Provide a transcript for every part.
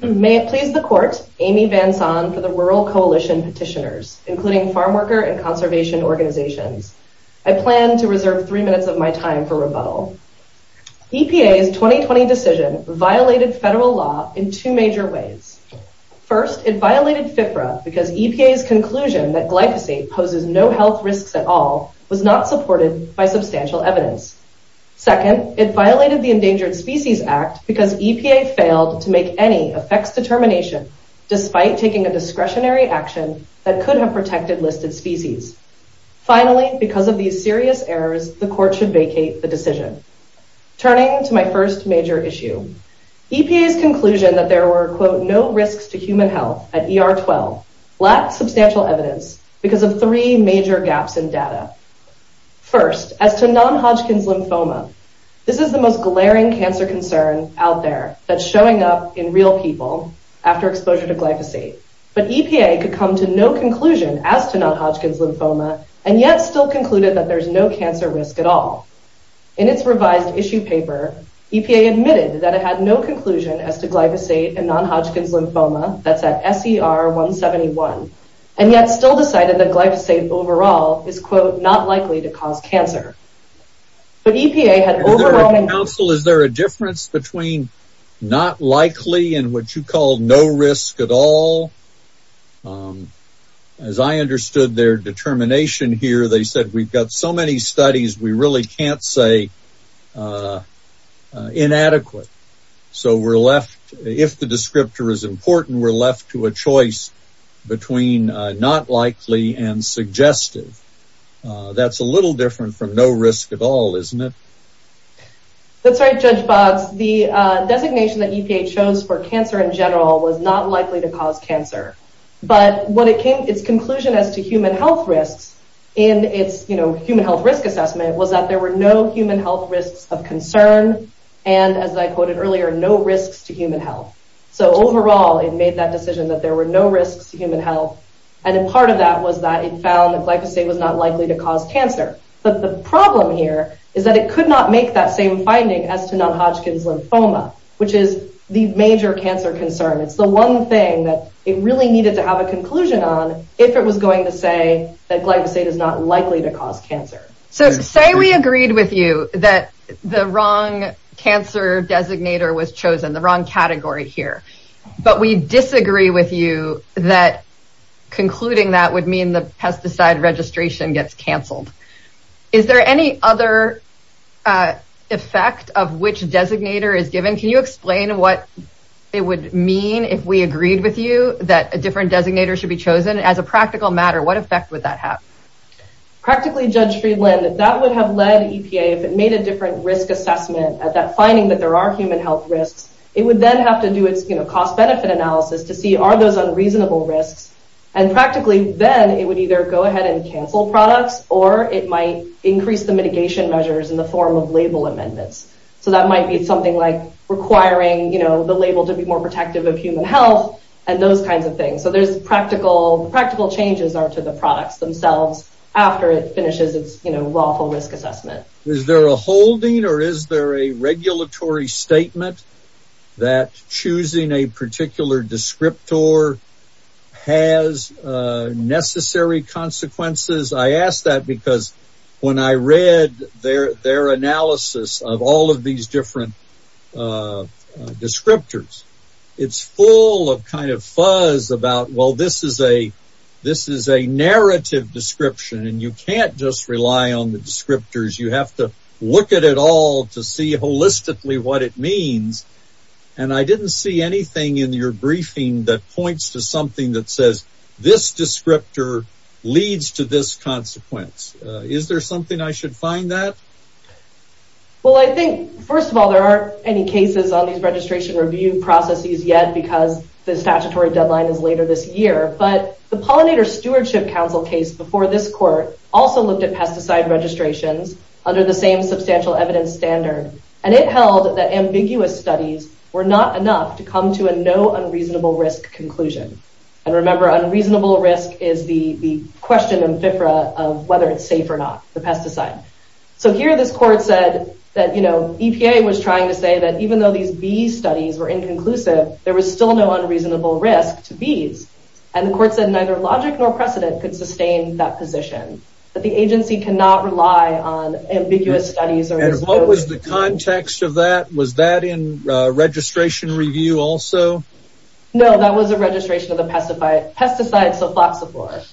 May it please the Court, Amy Vansom for the Rural Coalition Petitioners, including farmworker and conservation organizations. I plan to reserve three minutes of my time for rebuttal. EPA's 2020 decision violated federal law in two major ways. First, it violated FFRA because EPA's conclusion that glyphosate poses no health risks at all was not supported by substantial evidence. Second, it violated the Endangered Species Act because EPA failed to make any effects determination despite taking a discretionary action that could have protected listed species. Finally, because of these serious errors, the Court should vacate the decision. Turning to my first major issue, EPA's conclusion that there were quote no risks to human health at ER-12 lacked substantial evidence because of three major gaps in data. First, as to non-Hodgkin's lymphoma, this is the most glaring cancer concern out there that's showing up in real people after exposure to glyphosate. But EPA could come to no conclusion as to non-Hodgkin's lymphoma and yet still concluded that there's no cancer risk at all. In its revised issue paper, EPA admitted that it had no conclusion as to glyphosate and non-Hodgkin's lymphoma, that's at SER-171, and yet still decided that glyphosate overall is, quote, not likely to cause cancer. But EPA has... Counsel, is there a difference between not likely and what you call no risk at all? As I understood their determination here, they said we've got so many studies, we really can't say inadequate. So we're left, if the descriptor is important, we're left to a choice between not likely and suggested. That's a little different from no risk at all, isn't it? That's right, Judge Bob. The designation that EPA chose for cancer in general was not likely to cause cancer. But when it came to conclusion as to human health risk in its human health risk assessment was that there were no human health risks of concern and, as I quoted earlier, no risks to human health. So overall, it made that decision that there were no risks to human health, and a part of that was that it found that glyphosate was not likely to cause cancer. But the problem here is that it could not make that same finding as to non-Hodgkin's lymphoma, which is the major cancer concern. It's the one thing that it really needed to have a conclusion on if it was going to say that glyphosate is not likely to cause cancer. So say we agreed with you that the wrong cancer designator was chosen, the wrong category here, but we disagree with you that concluding that would mean the pesticide registration gets canceled. Is there any other effect of which designator is given? Can you explain what it would mean if we agreed with you that a different designator should be chosen? As a practical matter, what effect would that have? Practically, Judge Friedlander, that would have led EPA, if it made a different risk assessment at that finding that there are human health risks, it would then have to do a cost-benefit analysis to see are those unreasonable risks, and practically then it would either go ahead and cancel products or it might increase the mitigation measures in the form of label amendments. So that might be something like requiring the label to be more protective of human health and those kinds of things. So there's practical changes to the products themselves after it finishes its lawful risk assessment. Is there a holding or is there a regulatory statement that choosing a particular descriptor has necessary consequences? I ask that because when I read their analysis of all of these different descriptors, it's full of kind of fuzz about, well, this is a narrative description and you can't just rely on the descriptors. You have to look at it all to see holistically what it means. And I didn't see anything in your briefing that points to something that says this descriptor leads to this consequence. Is there something I should find that? Well, I think, first of all, there aren't any cases on these registration review processes yet because the statutory deadline is later this year. But the pollinator stewardship council case before this court also looked at pesticide registration under the same substantial evidence standard. And it held that ambiguous studies were not enough to come to a no unreasonable risk conclusion. And remember, unreasonable risk is the question of whether it's safe or not for pesticides. So here this court said that EPA was trying to say that even though these bees studies were inconclusive, there was still no unreasonable risk to bees. And the court said neither logic nor precedent could sustain that position. But the agency cannot rely on ambiguous studies or... And what was the context of that? Was that in registration review also? No, that was a registration of the pesticide, pesticide sophosphorus.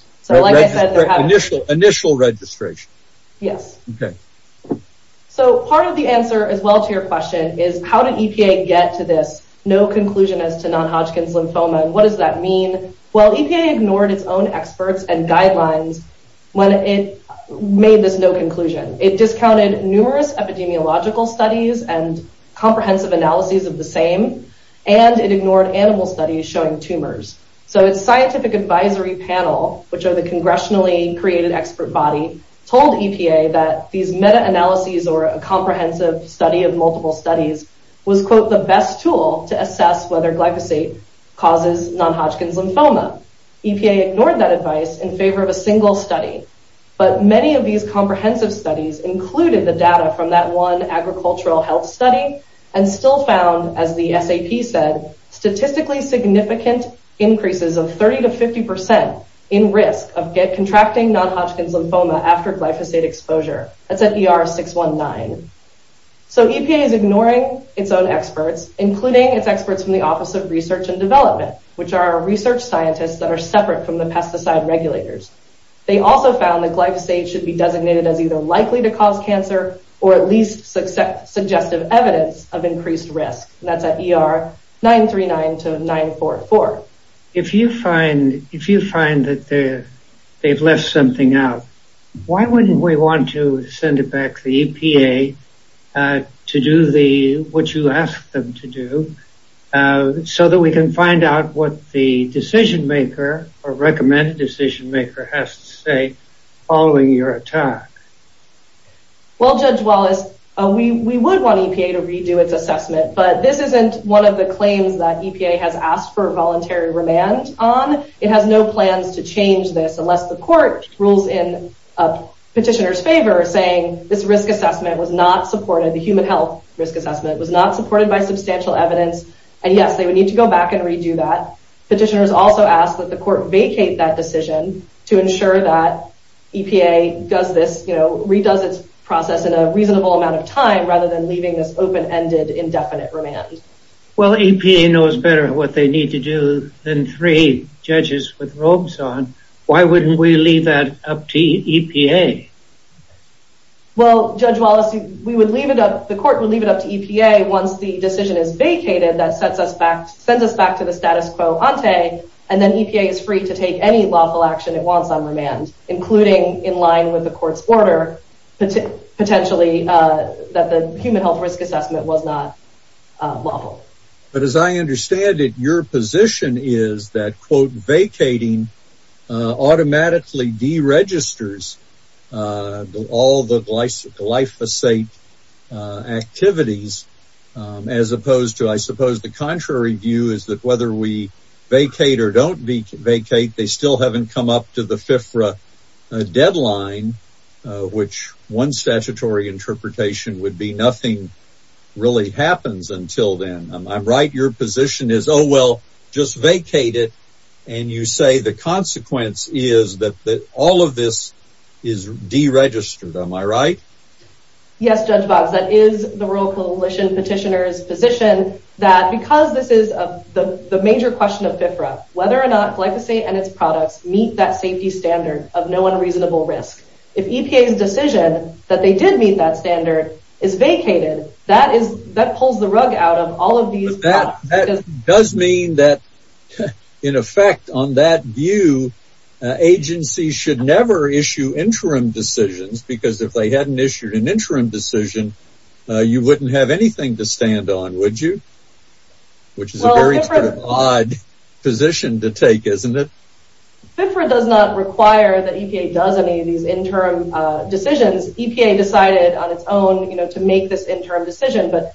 Initial registration. Yes. Okay. So part of the answer as well to your question is how did EPA get to this no conclusion as to non-Hodgkin's lymphoma and what does that mean? Well, EPA ignored its own experts and guidelines when it made this no conclusion. It discounted numerous epidemiological studies and comprehensive analyses of the same. And it ignored animal studies showing tumors. So its scientific advisory panel, which are the congressionally created expert body, told EPA that these meta-analyses or a comprehensive study of multiple studies was, quote, the best tool to assess whether glyphosate causes non-Hodgkin's lymphoma. EPA ignored that advice in favor of a single study. But many of these comprehensive studies included the data from that one agricultural health study and still found, as the FAP said, statistically significant increases of 30 to 50% in risk of contracting non-Hodgkin's lymphoma after glyphosate exposure. That's at ER 619. So EPA is ignoring its own experts, including its experts in the Office of Research and Development, which are our research scientists that are separate from the pesticide regulators. They also found that glyphosate should be designated as either likely to cause cancer or at least suggestive evidence of increased risk. And that's at ER 939 to 944. If you find, if you find that they've left something out, why wouldn't we want to send it back to EPA to do the, what you asked them to do, so that we can find out what the decision-maker or recommended decision-maker has to say following your attack? Well, Judge Wallace, we would want EPA to redo its assessment, but this isn't one of the claims that EPA has asked for voluntary remand on. It has no plans to change this unless the court rules in petitioner's favor saying this risk assessment was not supported, the human health risk assessment was not supported by substantial evidence. And yes, they would need to go back and redo that. Petitioner has also asked that the court vacate that decision to ensure that EPA does this, you know, redoes its process in a reasonable amount of time rather than leaving this open-ended, indefinite remand. Well, EPA knows better what they need to do than three judges with robes on. Why wouldn't we leave that up to EPA? Well, Judge Wallace, we would leave it up, the court would leave it up to EPA once the decision is vacated that sends us back to the status quo ante, and then EPA is free to take any lawful action it wants on remand, including in line with the court's order, potentially that the human health risk assessment will not evolve. But as I understand it, your position is that, quote, vacating automatically deregisters all the glyphosate activities as opposed to, I suppose, the contrary view is that whether we vacate or don't vacate, they still haven't come up to the FIFRA deadline, which one statutory interpretation would be nothing really happens until then. Am I right? Your position is, oh, well, just vacate it, and you say the consequence is that all of this is deregistered. Am I right? Yes, Judge Bob. That is the Rural Coalition petitioner's position that because this is the major question of FIFRA, whether or not if EPA's decision that they did meet that standard is vacated, that pulls the rug out of all of these doubts. But that does mean that, in effect, on that view, agencies should never issue interim decisions because if they hadn't issued an interim decision, you wouldn't have anything to stand on, would you? Which is a very odd position to take, isn't it? FIFRA does not require that EPA does any of these interim decisions. EPA decided on its own to make this interim decision, but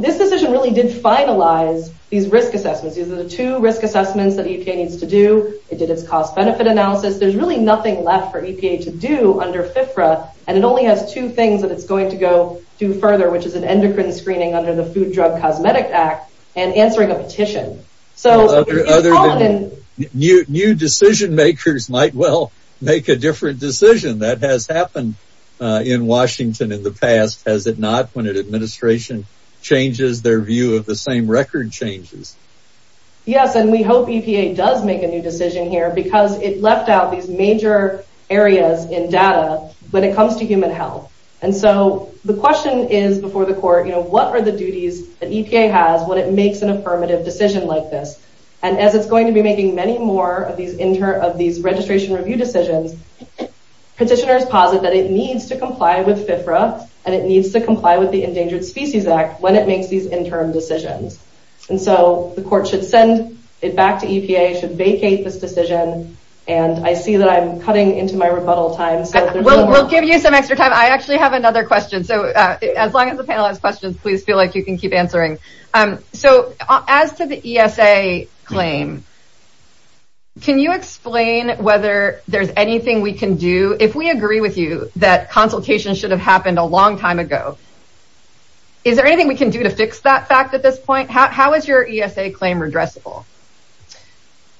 this decision really did finalize these risk assessments. These are the two risk assessments that EPA needs to do. It did its cost-benefit analysis. There's really nothing left for EPA to do under FIFRA, and it only has two things that it's going to go do further, which is an endocrine screening under the Food, Drug, and Cosmetic Act and answering a petition. Other than new decision-makers might well make a different decision. That has happened in Washington in the past, has it not, when an administration changes their view of the same record changes? Yes, and we hope EPA does make a new decision here because it left out these major areas in data when it comes to human health. And what are the duties that EPA has when it makes an affirmative decision like this? And as it's going to be making many more of these registration review decisions, petitioners posit that it needs to comply with FIFRA and it needs to comply with the Endangered Species Act when it makes these interim decisions. And so the court should send it back to EPA, should vacate this decision, and I see that I'm cutting into my rebuttal time. We'll give you some extra time. I actually have another question. So as long as the panel has questions, please feel like you can keep answering. So as to the ESA claim, can you explain whether there's anything we can do, if we agree with you, that consultation should have happened a long time ago. Is there anything we can do to fix that fact at this point? How is your ESA claim redressable?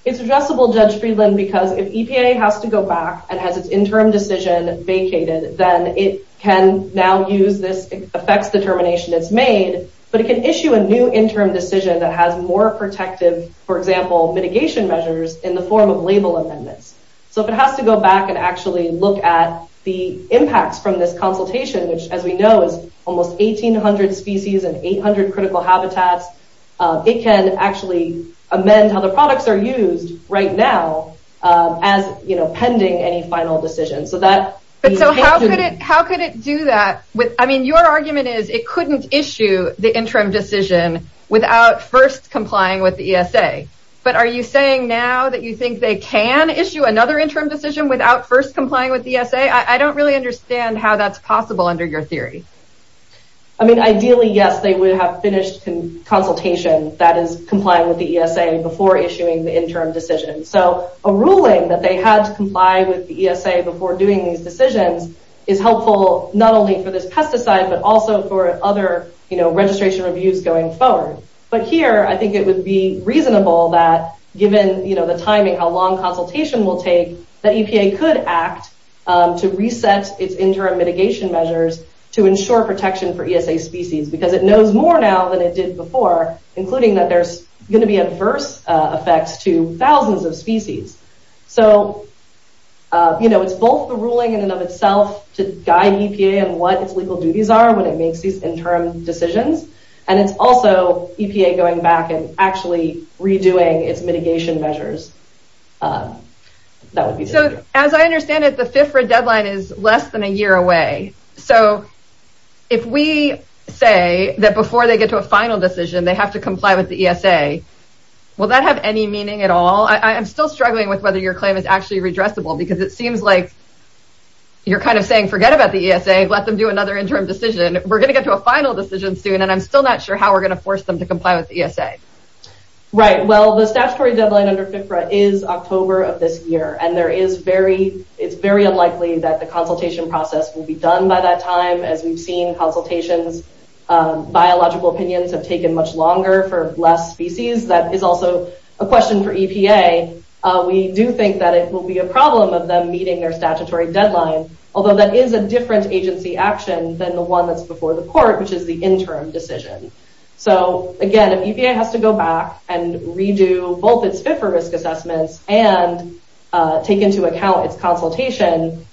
It's redressable, Judge Friedland, because if EPA has to go back and has its interim decision vacated, then it can now use this effect determination it's made, but it can issue a new interim decision that has more protective, for example, mitigation measures in the form of label amendments. So if it has to go back and actually look at the impact from this consultation, which as we know is almost 1,800 species and 800 critical habitats, it can actually amend how the products are used right now as, you know, pending any final decision. So that's... So how could it do that? I mean, your argument is it couldn't issue the interim decision without first complying with the ESA. But are you saying now that you think they can issue another interim decision without first complying with the ESA? I don't really understand how that's possible under your theory. I mean, ideally, yes, they would have finished the consultation that is complying with the interim decision. So a ruling that they have to comply with the ESA before doing these decisions is helpful not only for this pesticide, but also for other, you know, registration reviews going forward. But here, I think it would be reasonable that given, you know, the timing, how long consultation will take, that EPA could act to reset its interim mitigation measures to ensure protection for ESA species, because it knows more now than it did before, including that there's going to be adverse effects to thousands of species. So, you know, it's both the ruling in and of itself to guide EPA on what its legal duties are when it makes these interim decisions, and it's also EPA going back and actually redoing its mitigation measures. That would be... So as I understand it, the FIFRA deadline is less than a year away. So if we say that before they get to a final decision, they have to comply with the ESA, will that have any meaning at all? I'm still struggling with whether your claim is actually redressable, because it seems like you're kind of saying, forget about the ESA, let them do another interim decision. We're going to get to a final decision soon, and I'm still not sure how we're going to force them to comply with the ESA. Right. Well, the statutory deadline under FIFRA is October of this year, and there is very...it's very unlikely that the consultation process will be done by that time, as we've seen in consultations, biological opinions have taken much longer for less species. That is also a question for EPA. We do think that it will be a problem of them meeting their statutory deadline, although that is a different agency action than the one that's before the court, which is the interim decision. So again, if EPA has to go back and redo both its FIFRA risk assessments and take into account its consultation,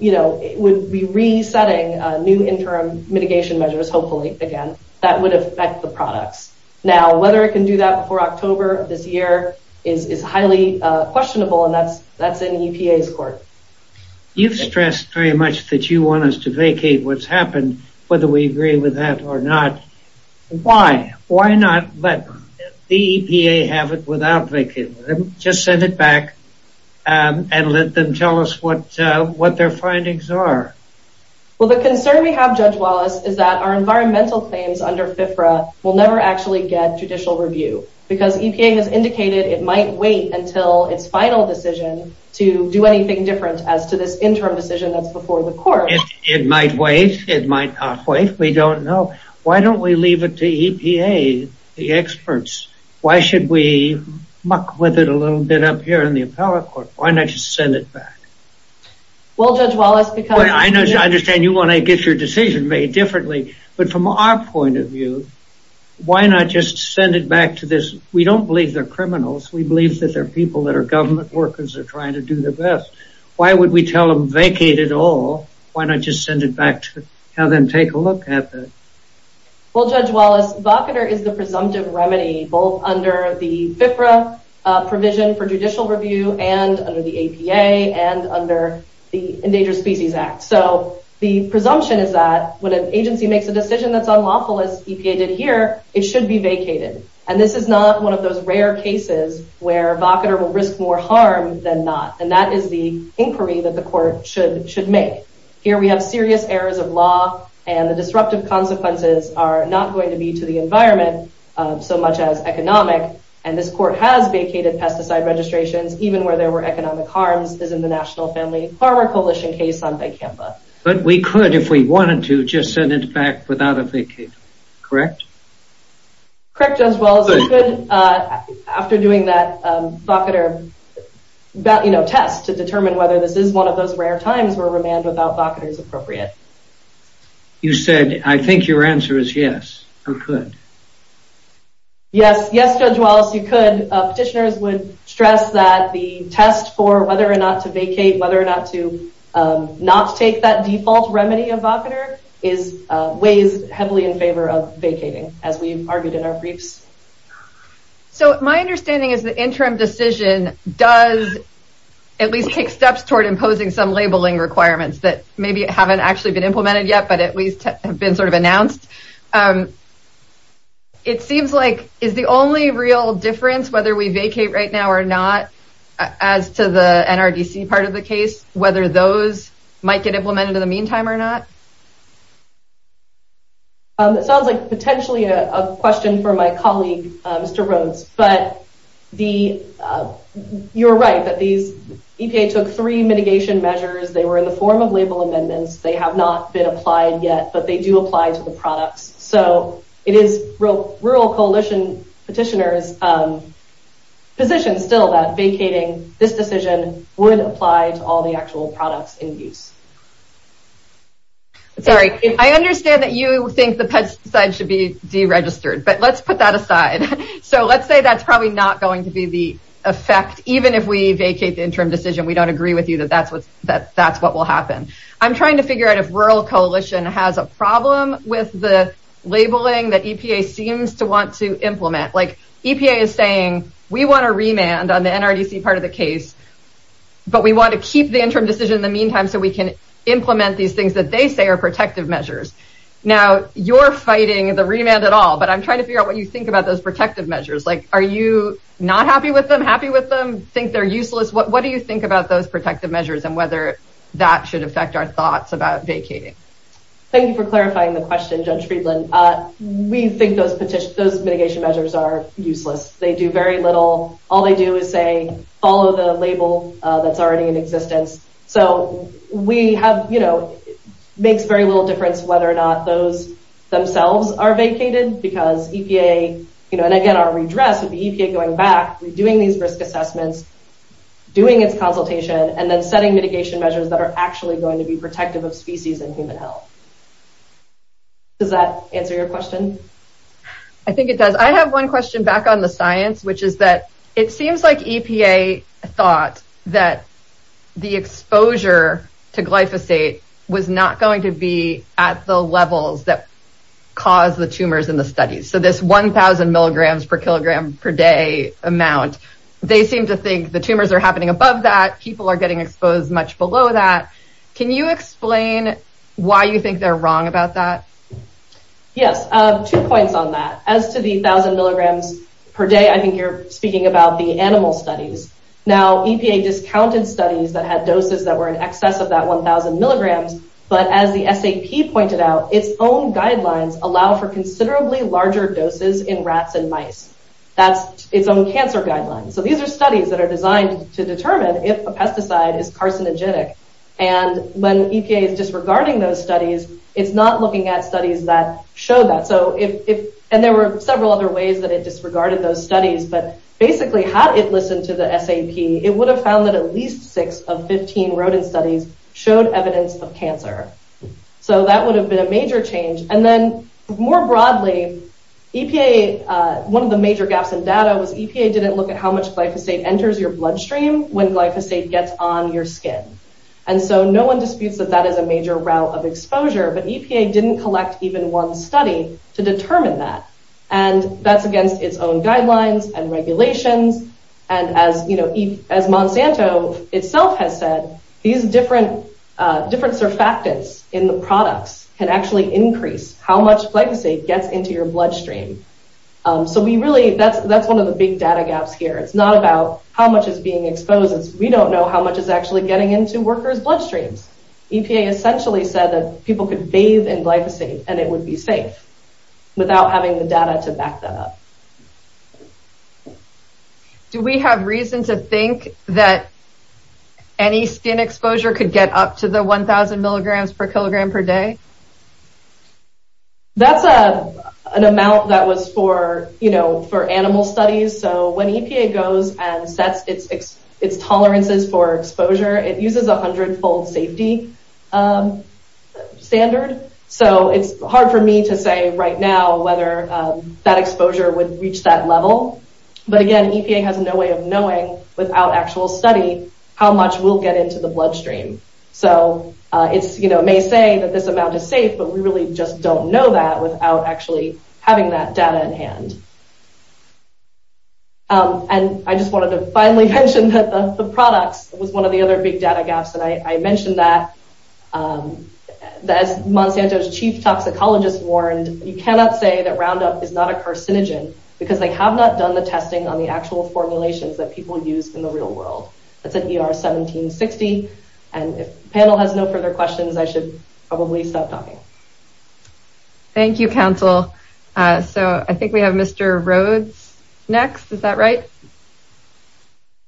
you know, it would be resetting new interim mitigation measures, hopefully, again. That would affect the product. Now, whether it can do that before October of this year is highly questionable, and that's in EPA's court. You've stressed very much that you want us to vacate what's happened, whether we agree with that or not. Why? Why not let the EPA have it without vacating it? Just send it back and let them tell us what their findings are. Well, the concern we have, Judge Wallace, is that our environmental claims under FIFRA will never actually get judicial review, because EPA has indicated it might wait until its final decision to do anything different as to this interim decision that's before the court. It might wait. It might not wait. We don't know. Why don't we leave it to EPA, the experts? Why should we muck with it a little bit up here in the appellate court? Why not just send it back? Well, Judge Wallace, because... I understand you want to get your decision made differently, but from our point of view, why not just send it back to this... We don't believe they're criminals. We believe that they're people that are government workers that are trying to do the best. Why would we tell them, vacate it all? Why not just send it back to... Have them take a look at it? Well, Judge Wallace, VOCADR is the presumptive remedy both under the FIFRA provision for judicial review and under the APA and under the Endangered Species Act. So the presumption is that when an agency makes a decision that's unlawful as EPA did here, it should be vacated. And this is not one of those rare cases where VOCADR will risk more harm than not. And that is the inquiry that the court should make. Here we have serious errors of law, and the disruptive consequences are not going to be to the environment so much as economic. And this court has vacated pesticide registrations, even where there were economic harms, as in the National Family Farmer Coalition case on Vicampa. But we could, if we wanted to, just send it back without a vacate. Correct? Correct, Judge Wallace. We could, after doing that VOCADR test to determine whether this is one of those rare times where remand without VOCADR is appropriate. You said, I think your answer is yes. Who could? Yes, Judge Wallace, you could. Petitioners would stress that the test for whether or not to vacate, whether or not to not take that default remedy of VOCADR weighs heavily in favor of vacating, as we argued in our briefs. So my understanding is the interim decision does at least take steps toward imposing some labeling requirements that maybe haven't actually been implemented yet, but at least have been sort of announced. It seems like, is the only real difference whether we vacate right now or not, as to the NRDC part of the case, whether those might get implemented in the meantime or not? It sounds like potentially a question for my colleague, Mr. Rhodes, but you're right that the EPA took three mitigation measures. They were in the form of label amendments. They have not been applied yet, but they do apply to the product. So it is rural coalition petitioners' position still that vacating this decision would apply to all the actual products in use. Sorry, I understand that you think the petition should be deregistered, but let's put that aside. So let's say that's probably not going to be the effect. Even if we vacate the interim decision, we don't agree with you that that's what will happen. I'm trying to figure out if rural coalition has a problem with the labeling that EPA seems to want to implement. Like, EPA is saying, we want to remand on the NRDC part of the case, but we want to keep the interim decision in the meantime so we can implement these things that they say are protective measures. Now, you're fighting the remand at all, but I'm trying to figure out what you think about those protective measures. Like, are you not happy with them? Happy with them? Think they're useless? What do you think about those protective measures and whether that should affect our thoughts about vacating? Thank you for clarifying the question, Judge Friedland. We think those mitigation measures are useless. They do very little. All they do is say, follow the label that's already in existence. So, we have, you know, makes very little difference whether or not those themselves are vacated because EPA, you know, and again, our redress is the EPA going back, redoing these risk assessments, doing its consultation, and then setting mitigation measures that are actually going to be protective of species and human health. Does that answer your question? I think it does. I have one question back on the science, which is that it seems like EPA thought that the exposure to glyphosate was not going to be at the levels that caused the tumors in the studies. So, this 1,000 milligrams per kilogram per day amount, they seem to think the tumors are happening above that. People are getting exposed much below that. Can you explain why you think they're I think you're speaking about the animal studies. Now, EPA discounted studies that had doses that were in excess of that 1,000 milligrams, but as the SAP pointed out, its own guidelines allow for considerably larger doses in rats than mice. That's its own cancer guidelines. So, these are studies that are designed to determine if a pesticide is carcinogenic, and when EPA is disregarding those studies, it's not looking at studies that show that. And there were several other ways that it disregarded those studies, but basically had it listened to the SAP, it would have found that at least six of 15 rodent studies showed evidence of cancer. So, that would have been a major change. And then, more broadly, one of the major gaps in data was EPA didn't look at how much glyphosate enters your bloodstream when glyphosate gets on your skin. And so, no one disputes that that is a major route of exposure, but EPA didn't collect even one study to determine that. And that's against its own guidelines and regulations, and as Monsanto itself has said, these different surfactants in the products can actually increase how much glyphosate gets into your bloodstream. So, we really, that's one of the big data gaps here. It's not about how much is being exposed. We don't know how much is actually getting into workers' bloodstreams. EPA essentially said that people could bathe in glyphosate and it would be safe without having the data to back that up. Do we have reason to think that any skin exposure could get up to the 1000 milligrams per kilogram per day? That's an amount that was for, you know, for animal studies. So, when EPA goes and sets its tolerances for exposure, it uses a 100-fold safety standard. So, it's hard for me to say right now whether that exposure would reach that level. But again, EPA has no way of knowing without actual study how much will get into the bloodstream. So, it may say that this amount is safe, but we really just don't know that without actually having that data in hand. And I just wanted to finally mention that the product was one of the other big data gaps, and I mentioned that. As Monsanto's chief toxicologist warned, you cannot say that Roundup is not a carcinogen because they have not done the testing on the actual formulations that people use in the real world. It's an ER 1760, and if the panel has no further questions, I should probably stop talking. Thank you, counsel. So, I think we have Mr. Rhodes next. Is that right?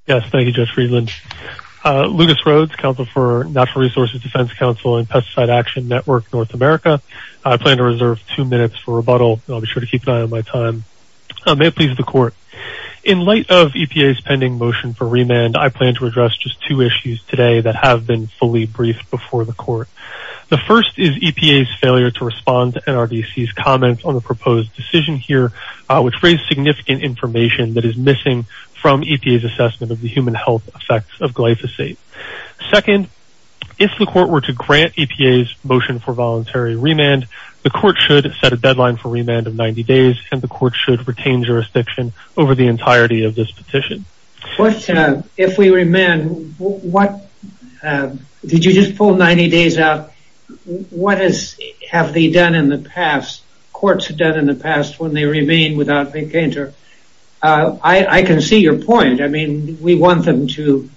Yes, thank you, Judge Friedland. Lucas Rhodes, counsel for Natural Resources Defense Counsel and Pesticide Action Network North America. I plan to reserve two minutes for rebuttal. I'll be sure to keep an eye on my time. May it please the court. In light of EPA's pending motion for remand, I plan to address just two issues today that have been fully briefed before the court. The first is EPA's failure to respond to NRDC's comment on the proposed decision here, which raises significant information that is missing from EPA's assessment of the human health effects of glyphosate. Second, if the court were to grant EPA's motion for voluntary remand, the court should set a deadline for remand of 90 days, and the court should retain jurisdiction over the entirety of this petition. First, if we remand, did you just pull 90 days out? What have courts done in the past when they remand without a painter? I can see your point. I mean, we want them to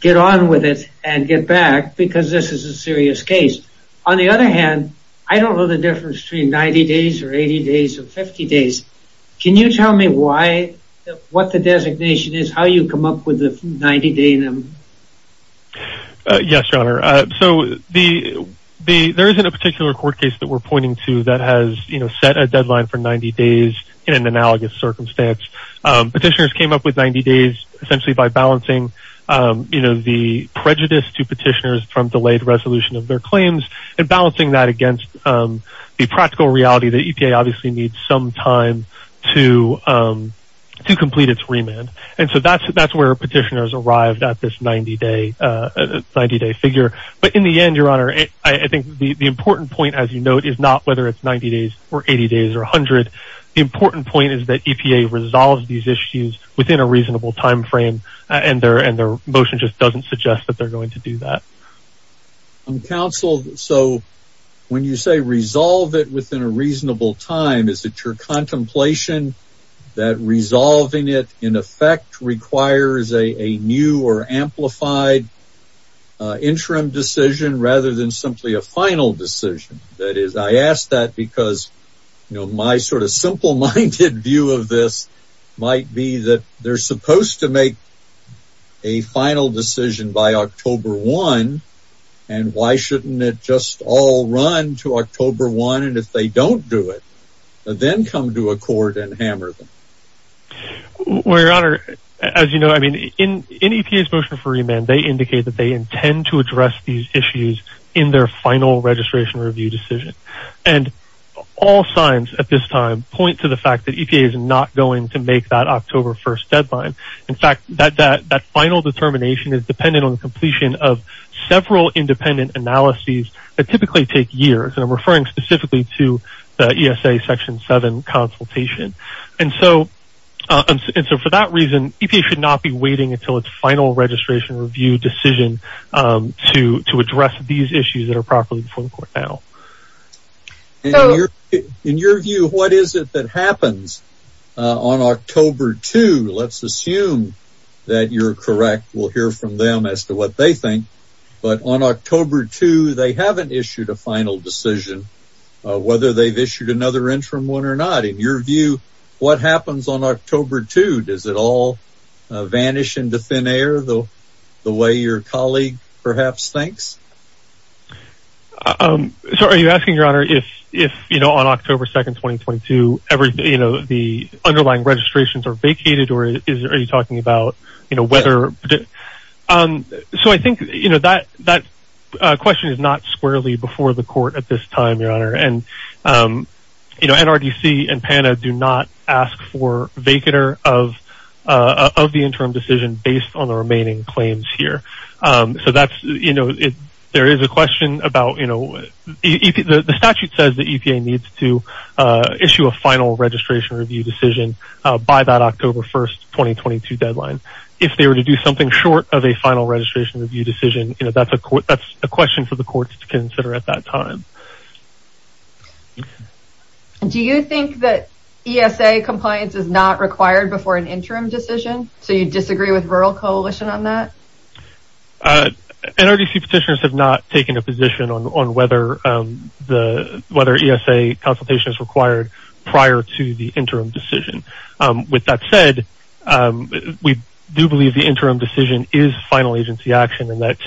get on with it and get back, because this is a serious case. On the other hand, I don't know the difference between 90 days or 80 days or 50 days. Can you tell me what the designation is, how you come up with the 90-day limit? Yes, Your Honor. So, there isn't a particular court case that we're pointing to that has set a deadline for 90 days in an analogous circumstance. Petitioners came up with 90 days essentially by balancing the prejudice to petitioners from delayed resolution of their claims and balancing that against the practical reality that EPA obviously needs some time to complete its remand. And so, that's where petitioners arrived at this 90-day figure. But in the end, Your Honor, I think the important point, as you note, is not whether it's 90 days or 80 days or 100. The important point is that EPA resolves these issues within a reasonable time frame, and their motion just doesn't suggest that they're going to do that. So, when you say resolve it within a reasonable time, is it your contemplation that resolving it, in effect, requires a new or amplified interim decision rather than simply a final decision? That is, I ask that because my sort of simple-minded view of this might be that they're supposed to make a final decision by October 1, and why shouldn't it just all run to October 1, and if they don't do it, then come to a court and hammer them? Well, Your Honor, as you know, I mean, in EPA's motion for remand, they indicate that they intend to address these issues in their final registration review decision. And all signs at this time point to the fact that EPA is not going to make that October 1 deadline. In fact, that final determination is dependent on the completion of several independent analyses that typically take years, and I'm referring specifically to the ESA Section 7 consultation. And so, for that reason, EPA should not be waiting until its final registration review decision to address these issues that are properly before the court now. In your view, what is it that happens on October 2? Let's assume that you're correct. We'll hear from them as to what they think. But on October 2, they haven't issued a final decision, whether they've issued another interim one or not. In your view, what happens on October 2? Does it all vanish into thin air the way your colleague perhaps thinks? So, are you asking, Your Honor, if on October 2, 2022, the underlying registrations are vacated, or are you talking about whether... So, I think that question is not squarely before the court at this time, Your Honor. And NRDC and PANDA do not ask for a vacater of the interim decision based on the remaining claims here. So, that's... There is a question about... The statute says that EPA needs to issue a final registration review decision by that October 1, 2022 deadline. If they were to do something short of a final registration review decision, that's a question for the courts to consider at that time. Do you think that ESA compliance is not required before an interim decision? So, you disagree with Rural Coalition on that? NRDC petitioners have not taken a position on whether the... Whether ESA consultation is required prior to the interim decision. With that said, we do believe the interim decision is final agency action, and that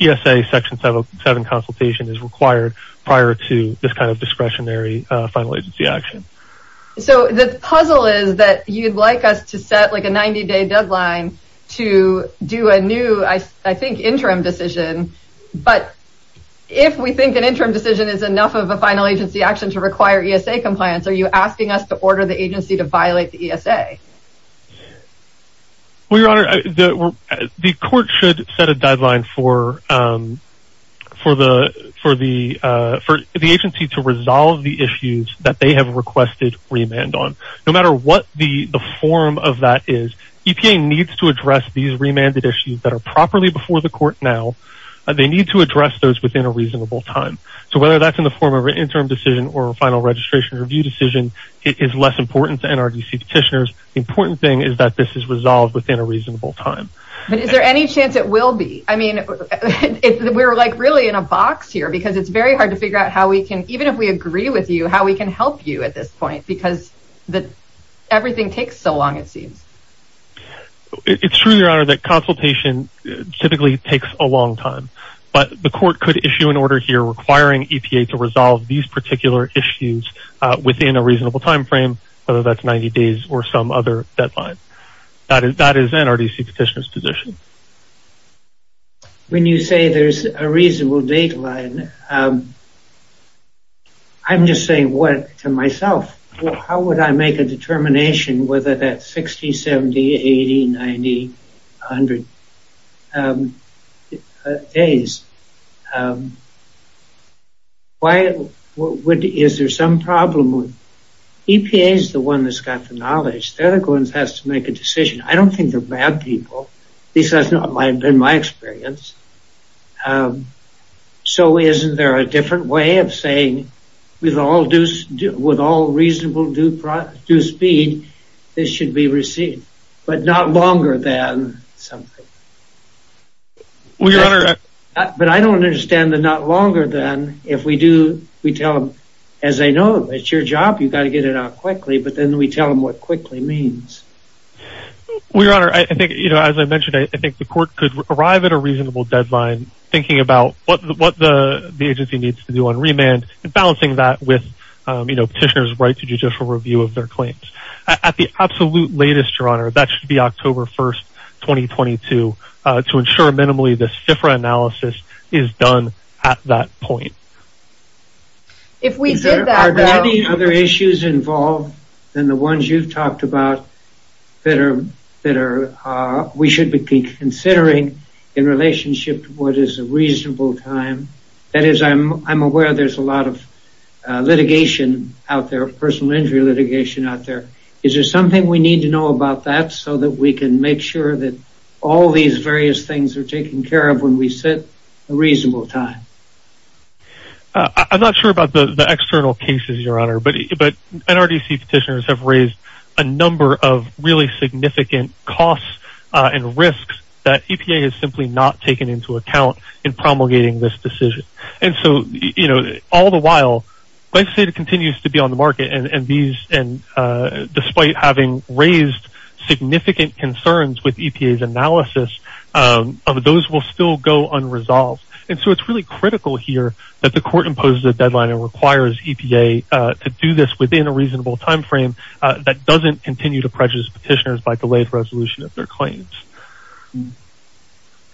ESA consultation is required prior to this kind of discretionary final agency action. So, the puzzle is that you'd like us to set, like, a 90-day deadline to do a new, I think, interim decision, but if we think an interim decision is enough of a final agency action to require ESA compliance, are you asking us to order the agency to violate the ESA? Well, Your Honor, the court should set a deadline for the agency to resolve the issues that they have requested remand on. No matter what the form of that is, EPA needs to address these remanded issues that are properly before the court now. They need to address those within a reasonable time. So, whether that's in the form of an interim decision or a final registration review decision, it is less important to NRDC petitioners. The important thing is that this is resolved within a reasonable time. But is there any chance it will be? I mean, we're, like, really in a box here, because it's very hard to figure out how we can, even if we agree with you, how we can help you at this point, because everything takes so long, it seems. It's true, Your Honor, that consultation typically takes a long time, but the court could issue an order here requiring EPA to resolve these particular issues within a reasonable time frame, whether that's 90 days or some other deadline. That is NRDC petitioner's position. When you say there's a reasonable deadline, I'm just saying, what, for myself? How would I make a determination whether that's 60, 70, 80, 90, 100 days? Is there some problem with... EPA is the one that's got the knowledge. They're the ones that have to make a decision. I don't think they're bad people. At least, that's not been my experience. So, isn't there a different way of saying, with all reasonable due speed, this should be received, but not longer than something? But I don't understand the not longer than. If we do, we tell them, as I know, it's your job, you've got to get it out quickly, but then we tell them what quickly means. Well, Your Honor, I think, as I mentioned, I think the court could arrive at a reasonable deadline thinking about what the agency needs to do on remand and balancing that with petitioner's right to judicial review of their claims. At the absolute latest, Your Honor, that should be October 1st, 2022, to ensure minimally this FFRA analysis is done at that point. Are there any other issues involved than the in relationship to what is a reasonable time? That is, I'm aware there's a lot of litigation out there, personal injury litigation out there. Is there something we need to know about that so that we can make sure that all these various things are taken care of when we set a reasonable time? I'm not sure about the external cases, Your Honor, but there's a number of really significant costs and risks that EPA has simply not taken into account in promulgating this decision. And so, you know, all the while, I say it continues to be on the market and despite having raised significant concerns with EPA's analysis, those will still go unresolved. And so it's really critical here that the petitioners by delayed resolution of their claims.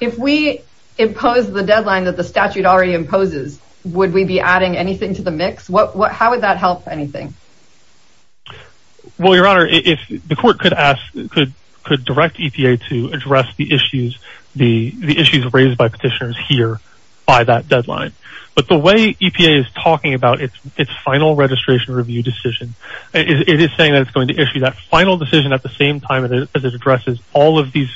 If we impose the deadline that the statute already imposes, would we be adding anything to the mix? How would that help anything? Well, Your Honor, if the court could ask, could direct EPA to address the issues, the issues raised by petitioners here by that deadline. But the way EPA is talking about its final registration review decision, it is saying that it's going to issue that final decision at the same time as it addresses all of these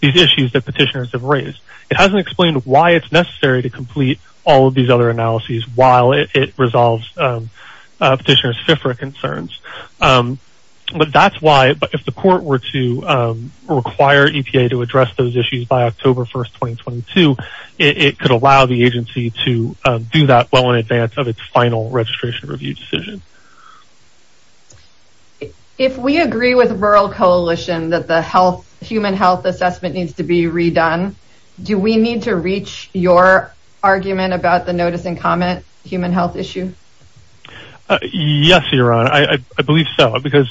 issues that petitioners have raised. It hasn't explained why it's necessary to complete all of these other analyses while it resolves petitioner's FIFRA concerns. But that's why if the court were to require EPA to address those issues by October 1st, 2022, it could allow the agency to do that well in advance of its final registration review decision. If we agree with Rural Coalition that the health, human health assessment needs to be redone, do we need to reach your argument about the notice and comment human health issue? Yes, Your Honor. I believe so, because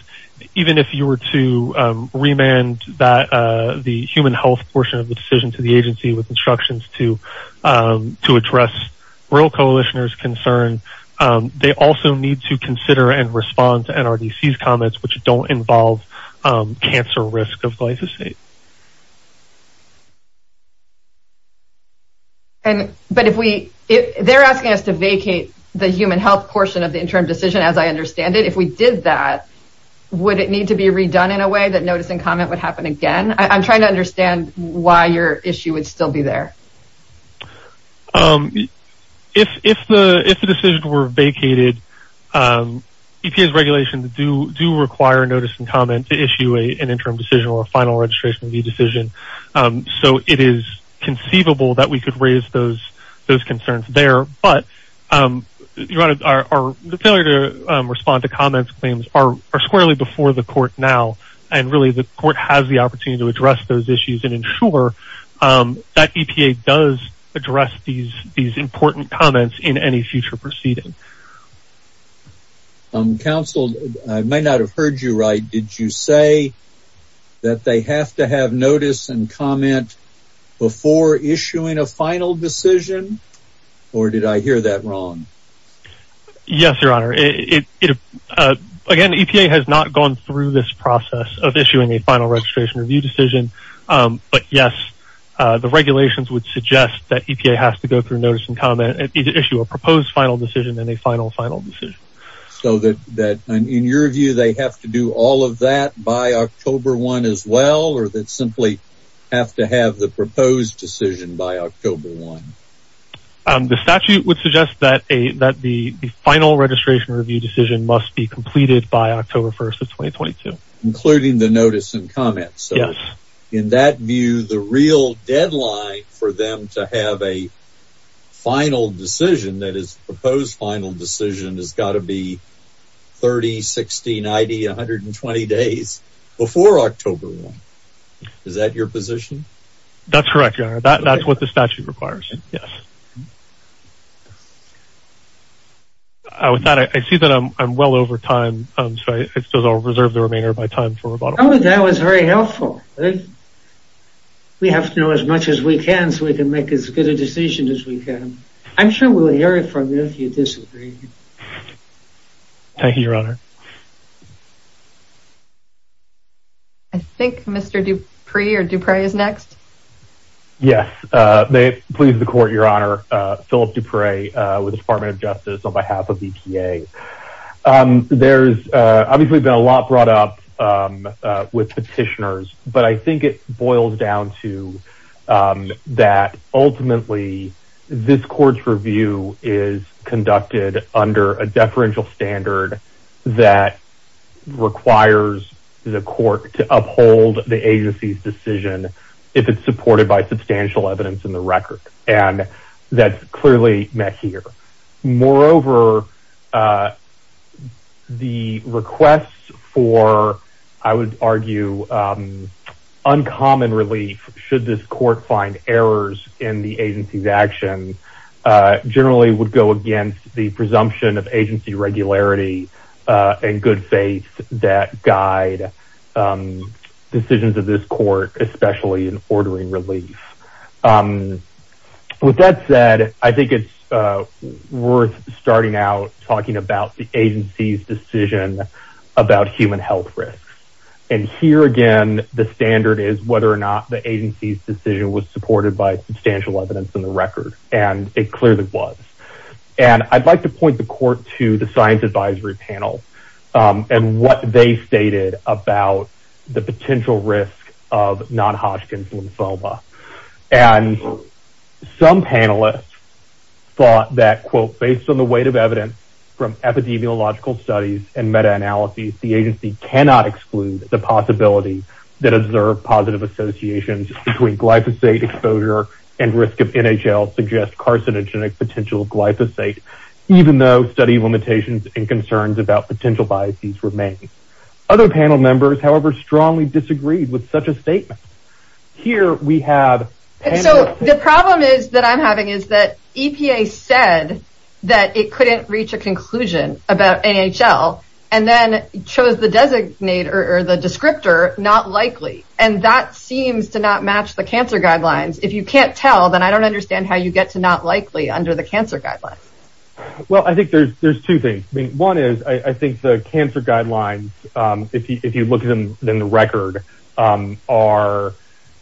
even if you were to remand the human health portion of the decision to the agency with instructions to address Rural Coalitioners' concern, they also need to consider and respond to NRDC's comments which don't involve cancer risk of glyphosate. They're asking us to vacate the human health portion of the interim decision as I understand it. If we did that, would it need to be redone in a way that notice and comment would happen again? I'm trying to understand why your issue would still be there. If the decision were vacated, EPA's regulations do require notice and comment to issue an interim decision or final registration review decision, so it is conceivable that we could raise those concerns there, but the failure to respond to comments claims are squarely before the court now, and really the court has the opportunity to address those issues and ensure that EPA does address these important comments in any future proceeding. Counsel, I may not have heard you right. Did you say that they have to have notice and comment before issuing a final decision? Or did I hear that wrong? Yes, Your Honor. Again, EPA has not gone through this process of issuing a final registration review decision, but yes, the regulations would suggest that EPA has to go through notice and comment to issue a proposed final decision and a final final decision. So in your view, they have to do all of that by October 1 as well, or they simply have to have the proposed decision by October 1? The statute would suggest that the final registration review decision must be completed by October 1, 2022. Including the notice and comment? Yes. In that view, the real deadline for them to have a final decision that is a proposed final decision has got to be 30, 60, 90, 120 days before October 1. Is that your position? That's correct, Your Honor. That's what the statute requires. I see that I'm well over time, so I'll reserve the remainder of my time for rebuttal. That was very helpful. We have to know as much as we can so we can make as good a decision as we can. I'm sure we'll hear it from you if you disagree. Thank you, Your Honor. I think Mr. Dupre or Dupre is next. Yes, may it please the Court, Your Honor. Philip Dupre with the Department of Justice on behalf of EPA. There's obviously been a lot brought up with petitioners, but I think it boils down to that ultimately, this Court's review is conducted under a deferential standard that requires the Court to uphold the agency's decision if it's supported by substantial evidence in the record. That's clearly met here. Moreover, the request for, I would argue, uncommon relief should this Court find errors in the agency's action generally would go against the presumption of agency regularity and good faith that guide decisions of this Court, especially in ordering relief. With that said, I think it's worth starting out talking about the agency's decision about human health risks. Here again, the standard is whether or not the agency's decision was supported by substantial evidence in the record, and it clearly was. I'd like to point the Court to the non-Hodgkin's lymphoma. Some panelists thought that quote, based on the weight of evidence from epidemiological studies and meta-analyses, the agency cannot exclude the possibility that observed positive associations between glyphosate exposure and risk of NHL suggest carcinogenic potential glyphosate, even though study limitations and concerns about potential biases remain. Other panel members, however, strongly disagreed with such a statement. Here we have... So the problem that I'm having is that EPA said that it couldn't reach a conclusion about NHL and then chose the descriptor, not likely, and that seems to not match the cancer guidelines. If you can't tell, then I think there's two things. One is, I think the cancer guidelines, if you look at them in the record, are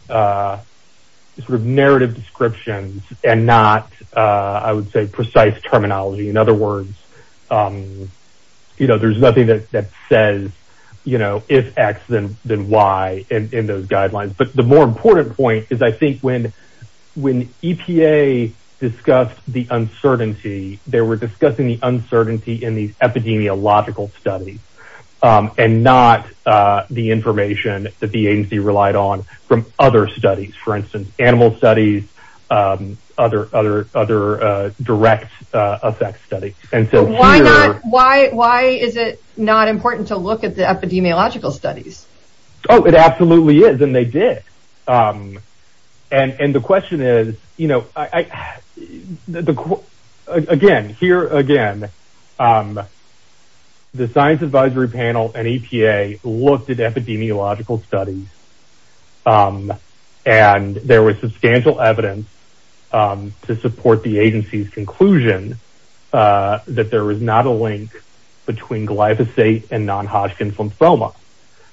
sort of narrative descriptions and not, I would say, precise terminology. In other words, you know, there's nothing that says, you know, if X, then Y in those guidelines. But the more important point is I think when EPA discussed the uncertainty, they were discussing the uncertainty in these epidemiological studies and not the information that the agency relied on from other studies. For instance, animal studies, other direct effects studies. And so here... Why is it not and the question is, you know, again, here again, the science advisory panel and EPA looked at epidemiological studies and there was substantial evidence to support the agency's conclusion that there was not a link between glyphosate and non-Hodgkin's lymphoma.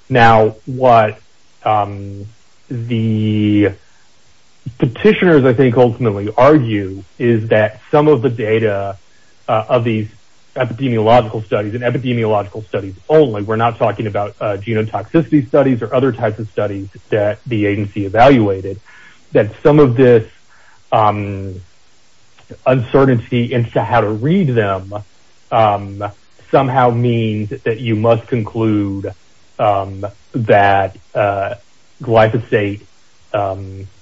Now, what the petitioners, I think, ultimately argue is that some of the data of these epidemiological studies and epidemiological studies only, we're not talking about genotoxicity studies or other types of studies that the agency evaluated, that some of this uncertainty into how to read them somehow means that you must conclude that glyphosate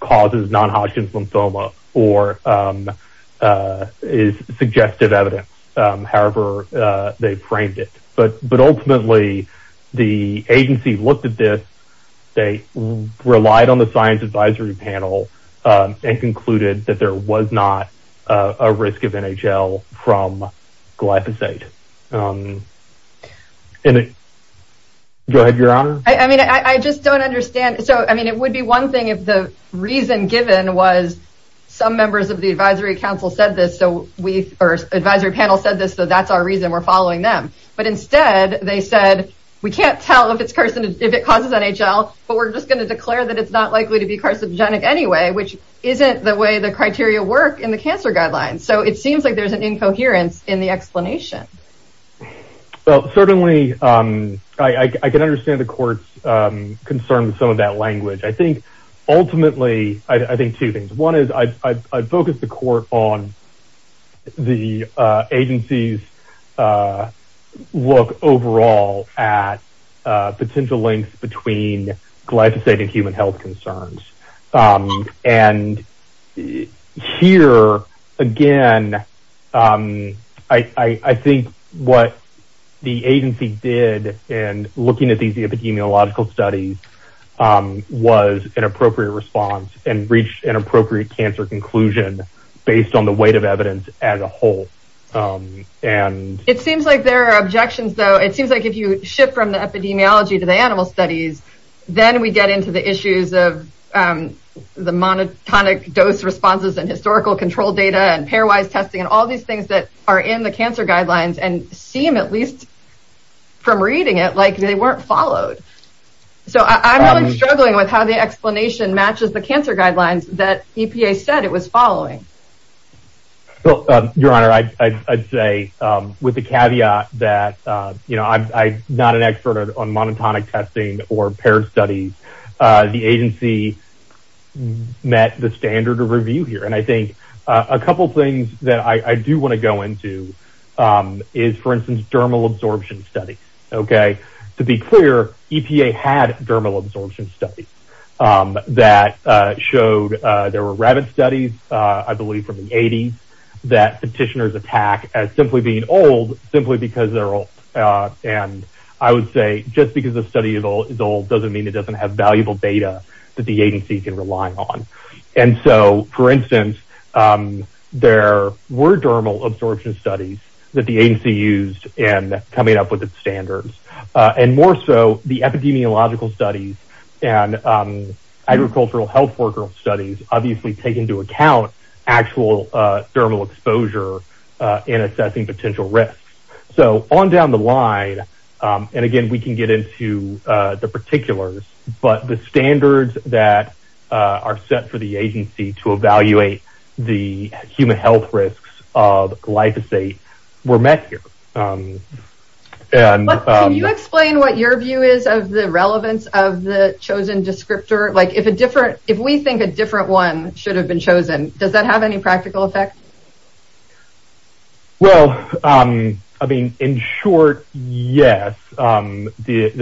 causes non-Hodgkin's lymphoma or is suggestive evidence. However, they framed it. But ultimately, the agency looked at this, they relied on the science advisory panel and concluded that there was not a risk of NHL from glyphosate. Go ahead, your honor. I mean, I just don't understand. So, I mean, it would be one thing if the reason given was some members of the advisory council said this, so we, or advisory panel said this, so that's our reason we're following them. But instead, they said, we can't tell if this person, if it causes NHL, but we're just going to declare that it's not likely to be carcinogenic anyway, which isn't the way the criteria work in the cancer guidelines. So, it seems like there's an incoherence in the explanation. Well, certainly, I can understand the court's concern with some of that language. I think, ultimately, I think two things. One is, I focused the court on the agency's look overall at potential links between glyphosate and human health concerns. And here, again, I think what the agency did in looking at these epidemiological studies was an appropriate response and reached an appropriate cancer conclusion based on the weight of evidence as a whole. It seems like there are objections, though. It seems like if you shift from the epidemiology to the animal studies, then we get into the issues of the monotonic dose responses and historical control data and pairwise testing and all these things that are in the cancer guidelines and seem, at least, from reading it, like they weren't followed. So, I'm really struggling with how the explanation matches the cancer guidelines that EPA said it was following. Well, Your Honor, I'd say with the caveat that I'm not an expert on monotonic testing or monotonic testing, I think the agency met the standard of review here. And I think a couple things that I do want to go into is, for instance, dermal absorption studies. To be clear, EPA had dermal absorption studies that showed there were rabbit studies, I believe from the 80s, that petitioners attack as simply being old simply because they're old. And I would say just because a study is old doesn't mean it doesn't have valuable data that the agency can rely on. And so, for instance, there were dermal absorption studies that the agency used in coming up with its standards. And more so, the epidemiological studies and agricultural health worker studies obviously take into account actual dermal exposure in assessing potential risks. So, on down the line, and again, we can get into the particulars, but the standards that are set for the agency to evaluate the human health risks of glyphosate were met here. Can you explain what your view is of the relevance of the chosen descriptor? Like, if we think a different one should have been chosen, does that have any practical effect? Well, I mean, in short, yes. Ultimately,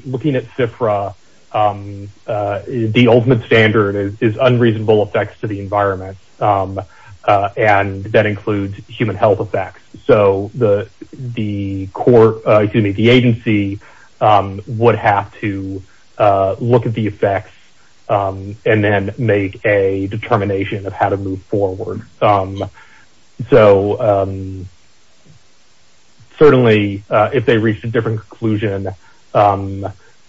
looking at CFRA, the ultimate standard is unreasonable effects to the environment. And that includes human health effects. So, the agency would have to look at the effects and then make a determination of how to move forward. So, certainly, if they reached a different conclusion,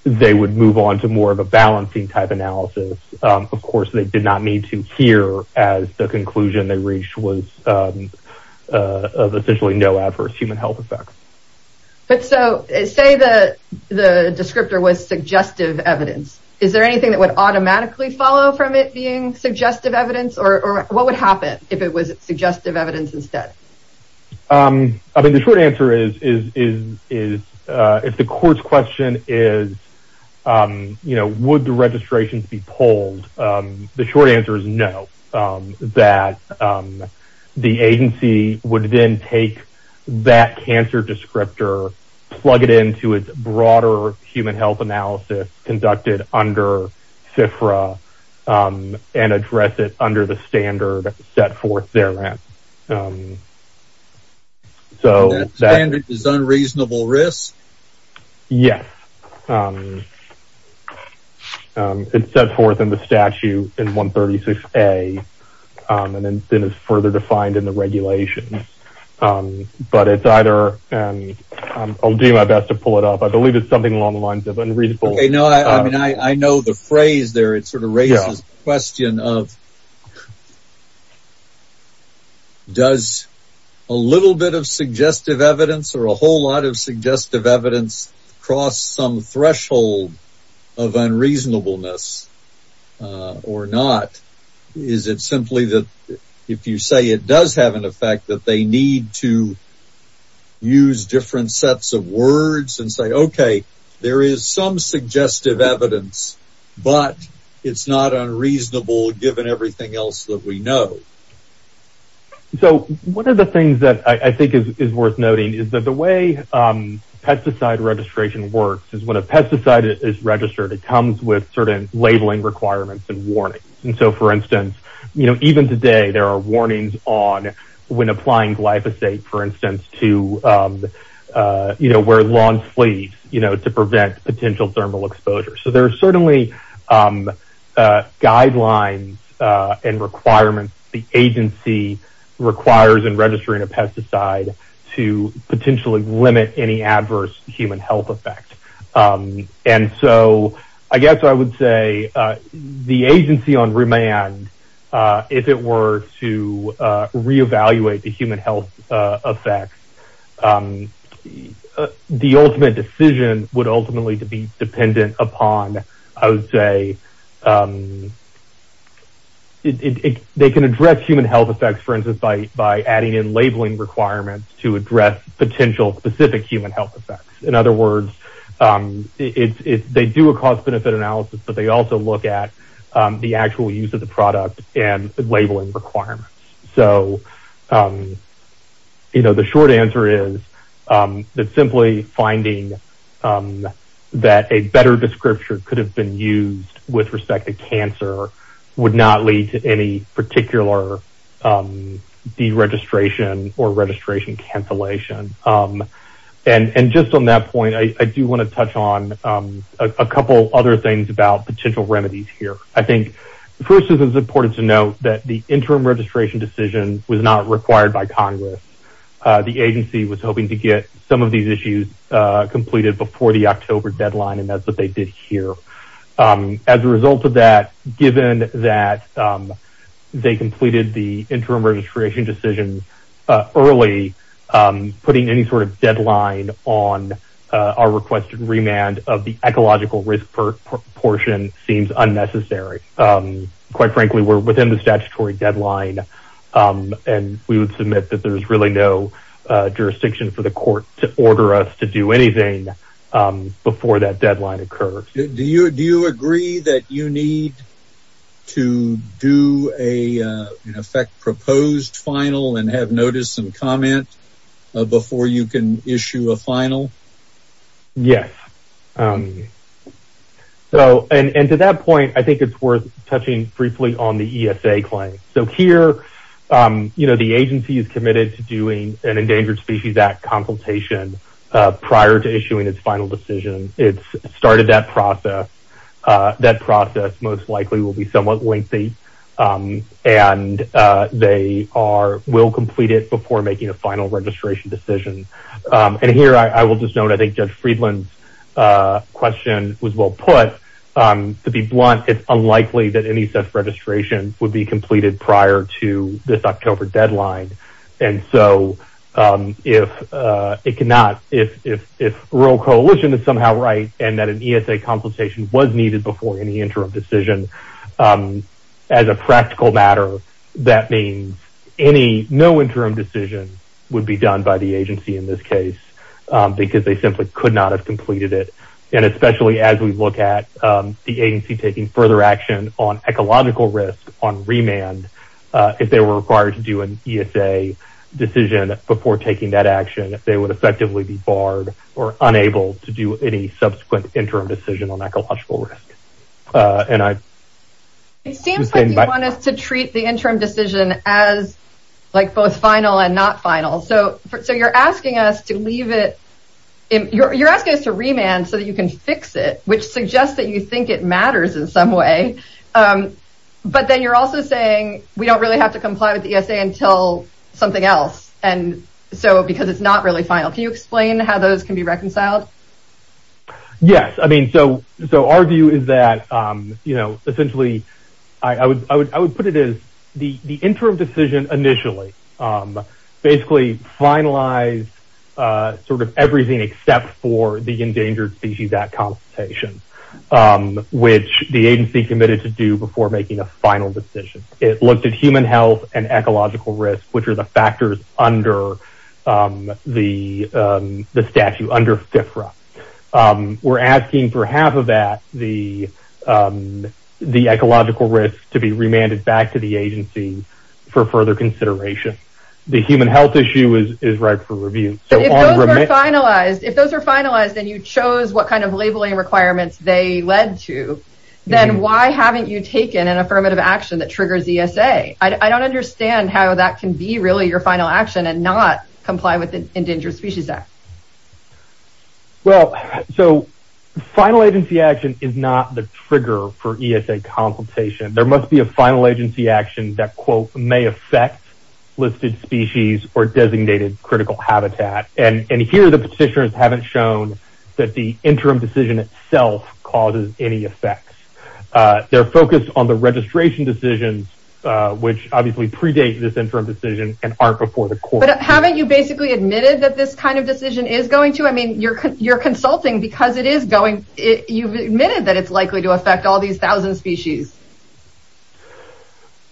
they would move on to more of a balancing type analysis. Of course, they did not need to hear as the conclusion they reached was essentially no adverse human health effects. So, say the descriptor was suggestive evidence. Is there anything that would automatically follow from it being suggestive evidence? Or what would happen if it was suggestive evidence instead? I mean, the short answer is, if the court's question is, you know, would the registrations be pulled, the short answer is no. The agency would then take that cancer descriptor, plug it into its broader human health analysis conducted under CFRA, and address it under the standard set forth there. That standard is unreasonable risk? Yes. It's set forth in the statute in 136A, and then it's further defined in the regulations. I'll do my best to pull it up. I believe it's something along the lines of unreasonable. I know the phrase there, it sort of raises the question of, does a little bit of suggestive evidence or a whole lot of suggestive evidence cross some lines? Or is it simply that if you say it does have an effect, that they need to use different sets of words and say, okay, there is some suggestive evidence, but it's not unreasonable given everything else that we know. So, one of the things that I think is worth noting is that the way even today, there are warnings on when applying glyphosate, for instance, to where lawn sleeves to prevent potential thermal exposure. There are certainly guidelines and requirements the agency requires in registering a pesticide to potentially limit any adverse human health effect. And so, I guess I would say the agency on remand, if it were to reevaluate the human health effect, the ultimate decision would ultimately be dependent upon, I would say, they can address human health effects, for instance, by adding in labeling requirements to address potential specific human health effects. In other words, they do a cost-benefit analysis, but they also look at the actual use of the product and the labeling requirements. So, the short answer is that simply finding that a better description could have been used with respect to cancer would not lead to any particular deregistration or registration cancellation. And just on that point, I do want to touch on a couple other things about potential remedies here. I think, first, it was important to note that the interim registration decision was not required by Congress. The agency was hoping to get some of these issues completed before the October deadline, and that's what they did here. As a result of that, given that they completed the interim registration decision early, putting any sort of deadline on our requested remand of the ecological risk portion seems unnecessary. Quite frankly, we're within the statutory deadline, and we would submit that there's really no jurisdiction for the court to order us to do anything before that deadline occurs. Do you agree that you need to do an effect-proposed final and have notice and comment before you can issue a final? Yes. And to that point, I think it's worth touching briefly on the ESA claim. So, here, the agency is committed to doing an Endangered Species Act consultation prior to issuing its final decision. It's started that process. That process most likely will be somewhat lengthy, and they will complete it before making a final registration decision. And here, I will just note, I think Judge Friedland's question was well put. To be blunt, it's unlikely that any such registration would be completed prior to this October deadline. And so, if rural coalition is somehow right, and that an ESA consultation was needed before any interim decision, as a practical matter, that means no interim decision would be done by the agency in this case because they simply could not have completed it. And especially as we look at the agency taking further action on ecological risk on remand, if they were required to do an ESA decision before taking that action, they would effectively be barred or unable to do any subsequent interim decision on ecological risk. And I... ...to treat the interim decision as, like, both final and not final. So, you're asking us to leave it...you're asking us to remand so that you can fix it, which suggests that you think it matters in some way. But then you're also saying we don't really have to comply with the ESA until something else. And so, because it's not really final. Can you explain how those can be reconciled? Yes. I mean, so, our view is that, you know, essentially, I would put it as the interim decision initially basically finalized sort of everything except for the endangered species at consultation, which the agency committed to do before making a final decision. It looked at human health and ecological risk, which are the factors under the statute, under FFRA. We're asking for half of that, the ecological risk, to be remanded back to the agency for further consideration. The human health issue is ripe for review. If those are finalized and you chose what kind of labeling requirements they led to, then why haven't you taken an affirmative action that triggers ESA? I don't understand how that can be really your final action and not comply with the Endangered Species Act. Well, so, final agency action is not the trigger for ESA consultation. There must be a final agency action that, quote, may affect listed species or designated critical habitat. And here the petitioners haven't shown that the interim decision itself causes any effects. They're focused on the registration decisions, which obviously predate this interim decision and are before the court. But haven't you basically admitted that this kind of decision is going to, I mean, you're consulting because it is going, you've admitted that it's likely to affect all these thousand species.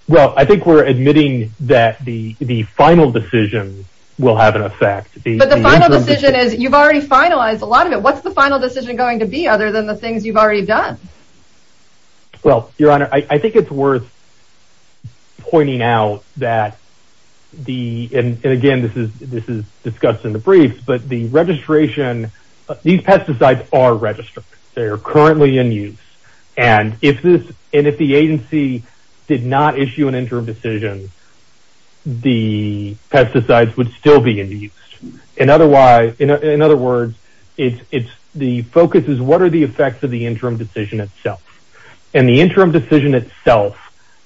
Well, I think we're admitting that the final decision will have an effect. But the final decision is, you've already finalized a lot of it. What's the final decision going to be other than the things you've already done? Well, Your Honor, I think it's worth pointing out that the, and again, this is discussed in the briefs, but the registration, these pesticides are registered. They are currently in use. And if the agency did not issue an interim decision, the pesticides would still be in use. In other words, the focus is what are the effects of the interim decision itself? And the interim decision itself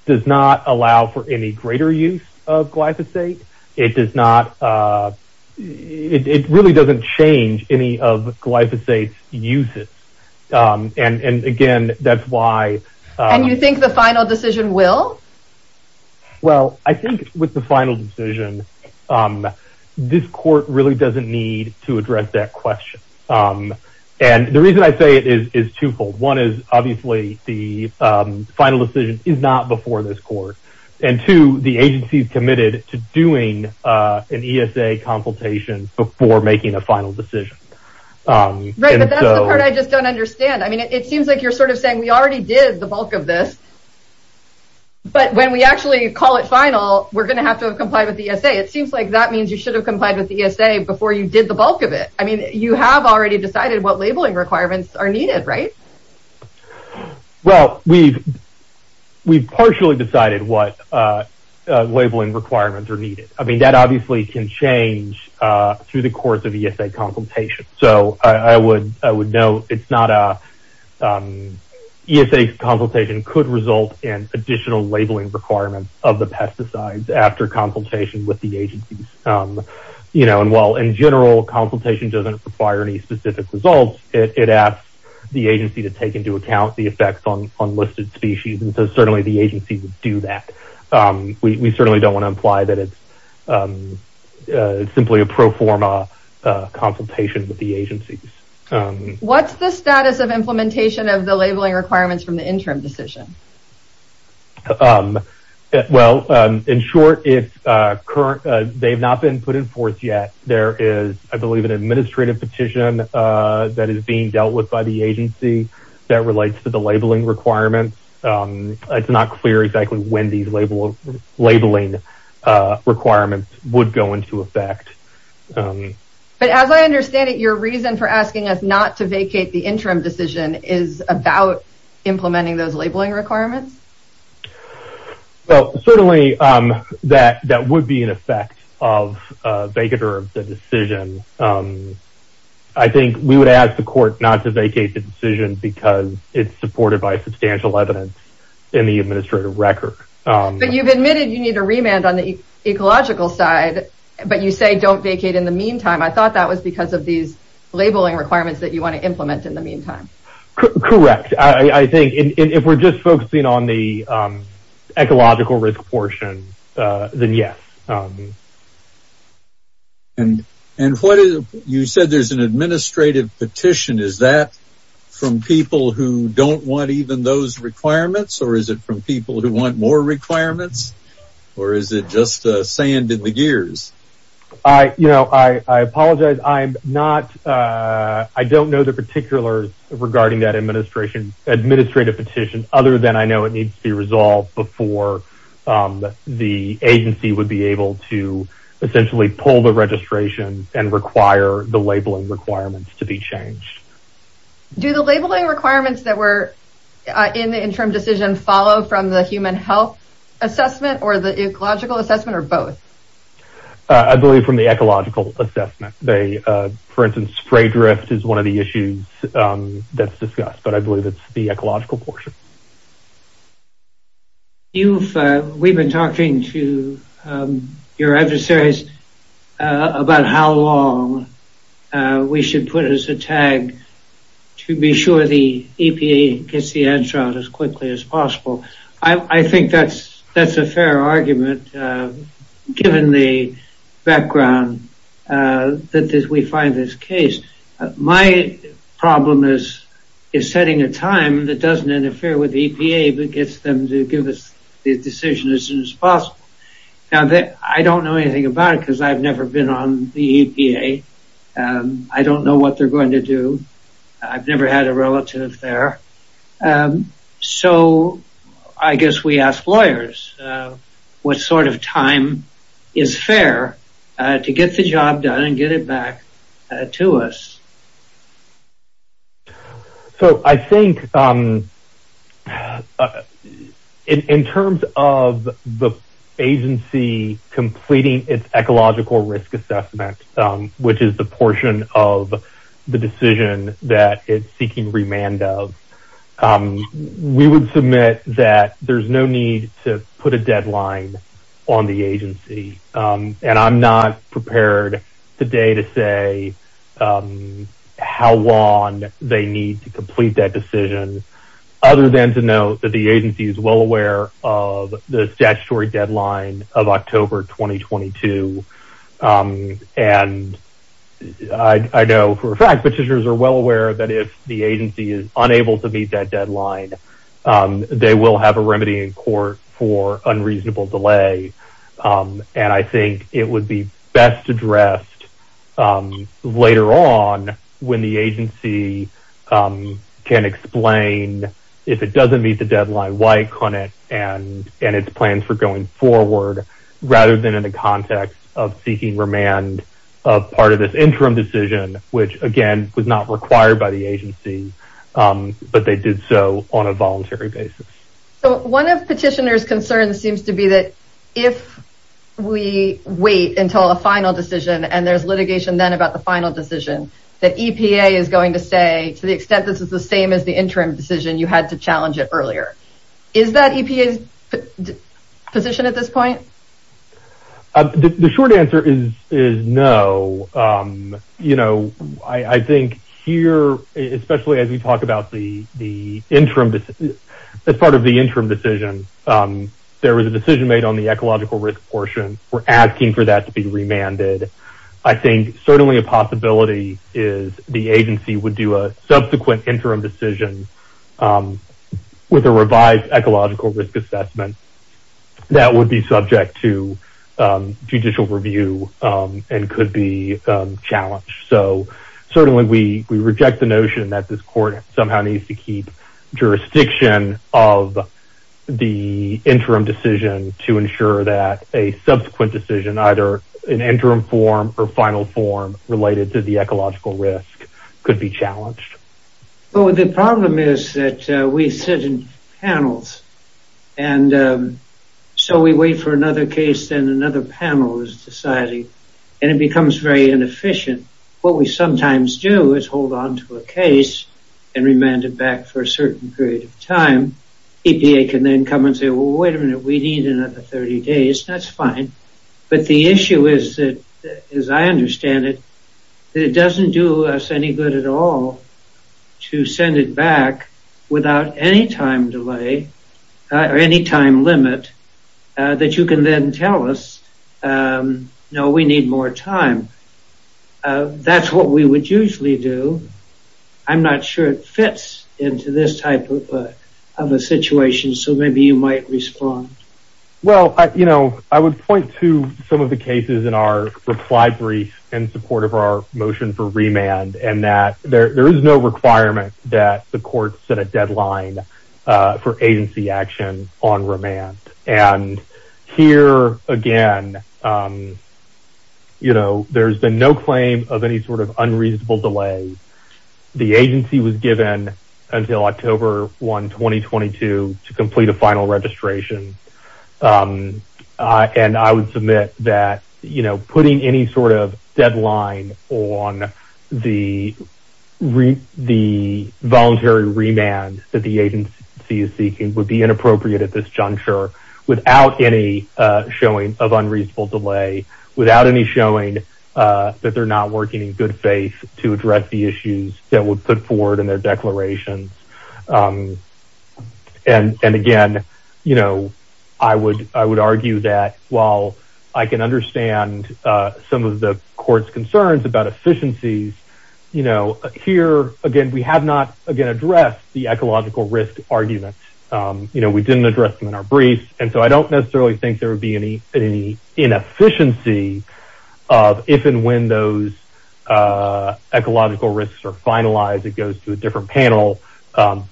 does not allow for any greater use of glyphosate. It does not, it really doesn't change any of that. So the final decision will? Well, I think with the final decision, this court really doesn't need to address that question. And the reason I say it is twofold. One is obviously the final decision is not before this court. And two, the agency is committed to doing an ESA consultation before making a final decision. Right, but that's the part I just don't understand. I mean, it seems like you're sort of saying we already did the bulk of this. But when we actually call it final, we're going to have to comply with ESA. It seems like that means you should have complied with ESA before you did the bulk of it. I mean, you have already decided what labeling requirements are needed, right? Well, we've partially decided what labeling requirements are needed. I mean, that obviously can change through the course of ESA consultation. So I would note it's not a, ESA consultation could result in additional labeling requirements of the pesticides after consultation with the agency. You know, and while in general consultation doesn't require any specific results, it asks the agency to take into account the effects on listed species. And so certainly the agency would do that. We certainly don't want to imply that it's simply a pro forma consultation with the agency. What's the status of implementation of the labeling requirements from the interim decision? Well, in short, it's current, they've not been put in force yet. There is, I believe, an administrative petition that is being dealt with by the agency that relates to the labeling requirements. It's not clear exactly when these labeling requirements would go into effect. But as I understand it, your reason for asking us not to vacate the interim decision is about implementing those labeling requirements? Well, certainly that would be an effect of vacating the decision. I think we would ask the court not to vacate the decision because it's supported by substantial evidence in the administrative record. But you've admitted you need a remand on the ecological side, but you say don't vacate in the meantime. I thought that was because of these labeling requirements that you want to implement in the meantime. Correct. I think if we're just focusing on the ecological risk portion, then yes. And you said there's an administrative petition. Is that from people who don't want even those requirements or is it from people who want more requirements or is it just sand in the gears? I apologize. I don't know the particulars regarding that administrative petition other than I know it needs to be resolved before the agency would be able to essentially pull the registration and require the labeling requirements to be changed. Do the labeling requirements that were in the interim decision follow from the human health assessment or the ecological assessment or both? I believe from the ecological assessment. For instance, spray drift is one of the issues that's discussed, but I believe it's the ecological portion. We've been talking to your adversaries about how long we should put as a tag to be sure the EPA gets the answer out as quickly as possible. I think that's a fair argument given the background that we find this case. My problem is setting a time that doesn't interfere with the EPA but gets them to give us the decision as soon as possible. I don't know anything about it because I've never been on the EPA. I don't know what they're going to do. I've never had a relative there. So I guess we ask lawyers what sort of time is fair to get the job done and get it back to us. So I think in terms of the agency completing its ecological risk assessment, which is the portion of the decision that it's seeking remand of, we would submit that there's no need to put a deadline on the agency. And I'm not prepared today to say how long they need to complete that decision other than to note that the agency is well aware of the statutory deadline of October 2022. And I know for a fact petitioners are well aware that if the agency is unable to meet that deadline, they will have a remedy in court for unreasonable delay. And I think it would be best addressed later on when the agency can explain if it doesn't meet the deadline, why it couldn't, and its plans for going forward, rather than in the context of seeking remand of part of this interim decision, which again was not required by the agency, but they did so on a voluntary basis. So one of petitioners' concerns seems to be that if we wait until the final decision and there's litigation then about the final decision, that EPA is going to say to the extent this is the same as the interim decision, you had to challenge it earlier. Is that EPA's position at this point? The short answer is no. I think here, especially as we talk about the interim decision, there was a decision made on the ecological risk portion. We're asking for that to be remanded. I think certainly a possibility is the agency would do a subsequent interim decision with a revised ecological risk assessment that would be subject to judicial review and could be challenged. Certainly we reject the notion that this court somehow needs to keep jurisdiction of the interim decision to ensure that a subsequent decision, either an interim form or final form related to the ecological risk could be challenged. The problem is that we sit in panels and so we wait for another case and another panel is decided and it becomes very inefficient. What we sometimes do is hold on to a case and remand it back for a certain period of time. EPA can then come and say, wait a minute, we need another 30 days. That's fine. But the issue is, as I understand it, that it doesn't do us any good at all to send it back without any time delay or any time limit that you can then tell us, no, we need more time. That's what we would usually do. I'm not sure it fits into this type of a situation, so maybe you might respond. I would point to some of the cases in our reply brief in support of our motion for remand and that there is no requirement that the court set a deadline for agency action on remand. Here, again, there's been no claim of any sort of unreasonable delay. The agency was given until October 1, 2022 to complete a final registration. I would submit that putting any sort of deadline on the voluntary remand that the agency is seeking would be inappropriate at this juncture without any showing of unreasonable delay, without any showing that they're not working in good faith to address the issues that were put forward in their declarations. Again, I would argue that while I can understand some of the court's concerns about efficiencies, we have not addressed the ecological risk argument. We didn't address them in our briefs. I don't necessarily think there would be any inefficiency of if and when those ecological risks are finalized. It goes to a different panel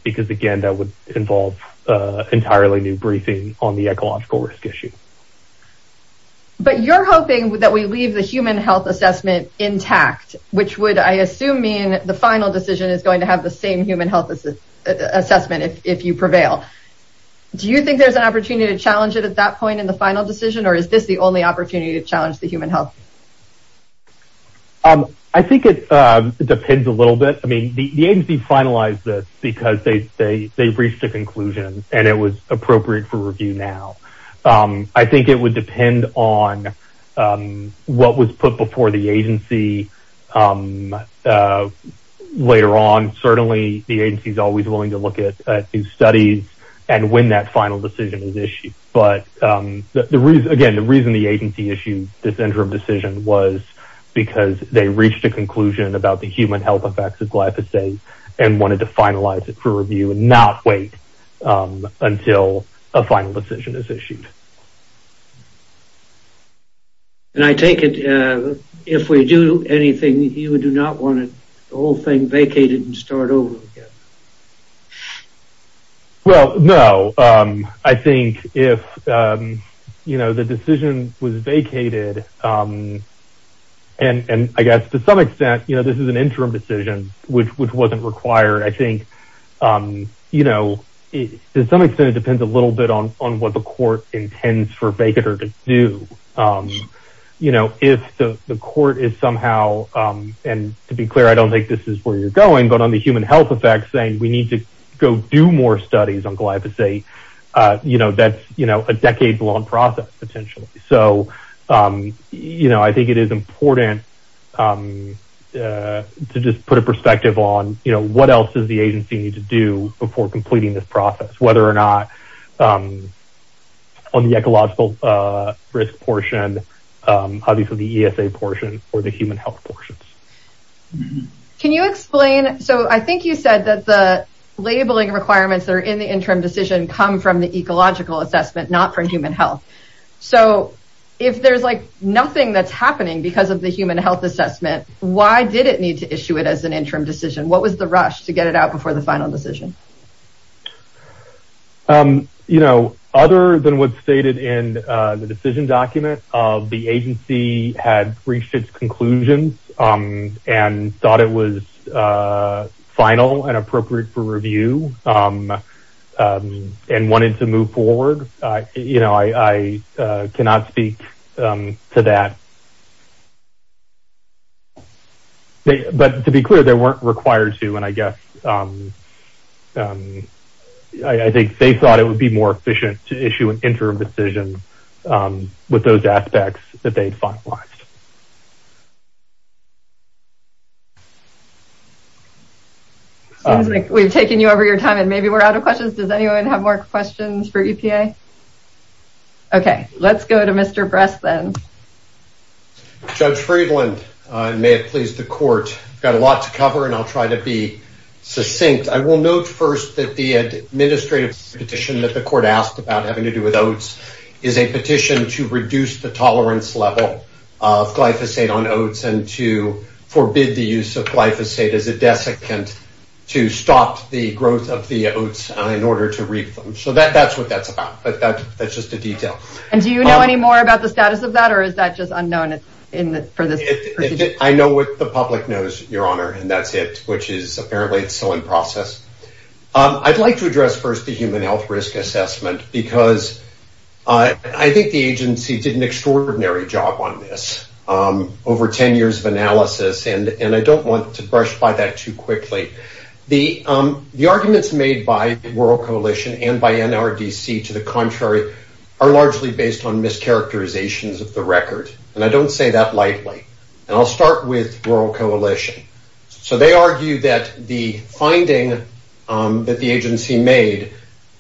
because, again, that would involve entirely new briefing on the ecological risk issue. But you're hoping that we leave the human health assessment intact, which would, I assume, mean the final decision is going to have the same human health assessment if you prevail. Do you think there's an opportunity to challenge it at that point in the final decision, or is this the only opportunity to challenge the human health? I think it depends a little bit. I mean, the agency finalized this because they reached a conclusion and it was appropriate for review now. I think it would depend on what was put before the agency. Later on, certainly, the agency is always willing to look at new studies and when that final decision is issued. But, again, the reason the agency issued this interim decision was because they reached a conclusion about the human health effects of glyphosate and wanted to finalize it for review and not wait until a final decision is issued. And I take it if we do anything, you do not want the whole thing vacated and start over again. Well, no. I think if the decision was vacated and, I guess, to some extent, this is an interim decision, which wasn't required. I think, to some extent, it depends a little bit on what the court is somehow, and to be clear, I don't think this is where you're going, but on the human health effects thing, we need to go do more studies on glyphosate. That's a decade-long process, potentially. So, I think it is important to just put a perspective on what else does the agency need to do before completing this process, whether or not on the ecological risk portion, obviously the ESA portion, or the human health portion. Can you explain? So, I think you said that the labeling requirements that are in the interim decision come from the ecological assessment, not from human health. So, if there's nothing that's happening because of the human health assessment, why did it need to issue it as an interim decision? What was the rush to get it out before the final decision? Other than what's stated in the decision document, the agency had reached its conclusions and thought it was final and appropriate for review and wanted to move forward. I cannot speak to that, but to be clear, they weren't required to, and I guess I think they thought it would be more efficient to issue an interim decision with those aspects that they thought worked. We've taken you over your time, and maybe we're out of questions. Does anyone have more questions for EPA? Okay, let's go to Mr. Bresson. Judge Friedland, may it please the court. I've got a lot to cover, and I'll try to be succinct. I will note first that the administrative petition that the court asked about having to do with oats is a petition to reduce the tolerance level of glyphosate on oats and to forbid the use of glyphosate as a desiccant to stop the growth of the oats in order to reap them. So that's what that's about, but that's just a detail. And do you know any more about the status of that, or is that just unknown? I know what the public knows, Your Honor, and that's it, which is apparently still in process. I'd like to address first the human health risk assessment, because I think the agency did an extraordinary job on this, over 10 years of analysis, and I don't want to brush by that too quickly. The arguments made by the Rural Coalition and by NRDC to the contrary are largely based on mischaracterizations of the record, and I don't say that lightly. And I'll start with Rural Coalition. So they argue that the finding that the agency made,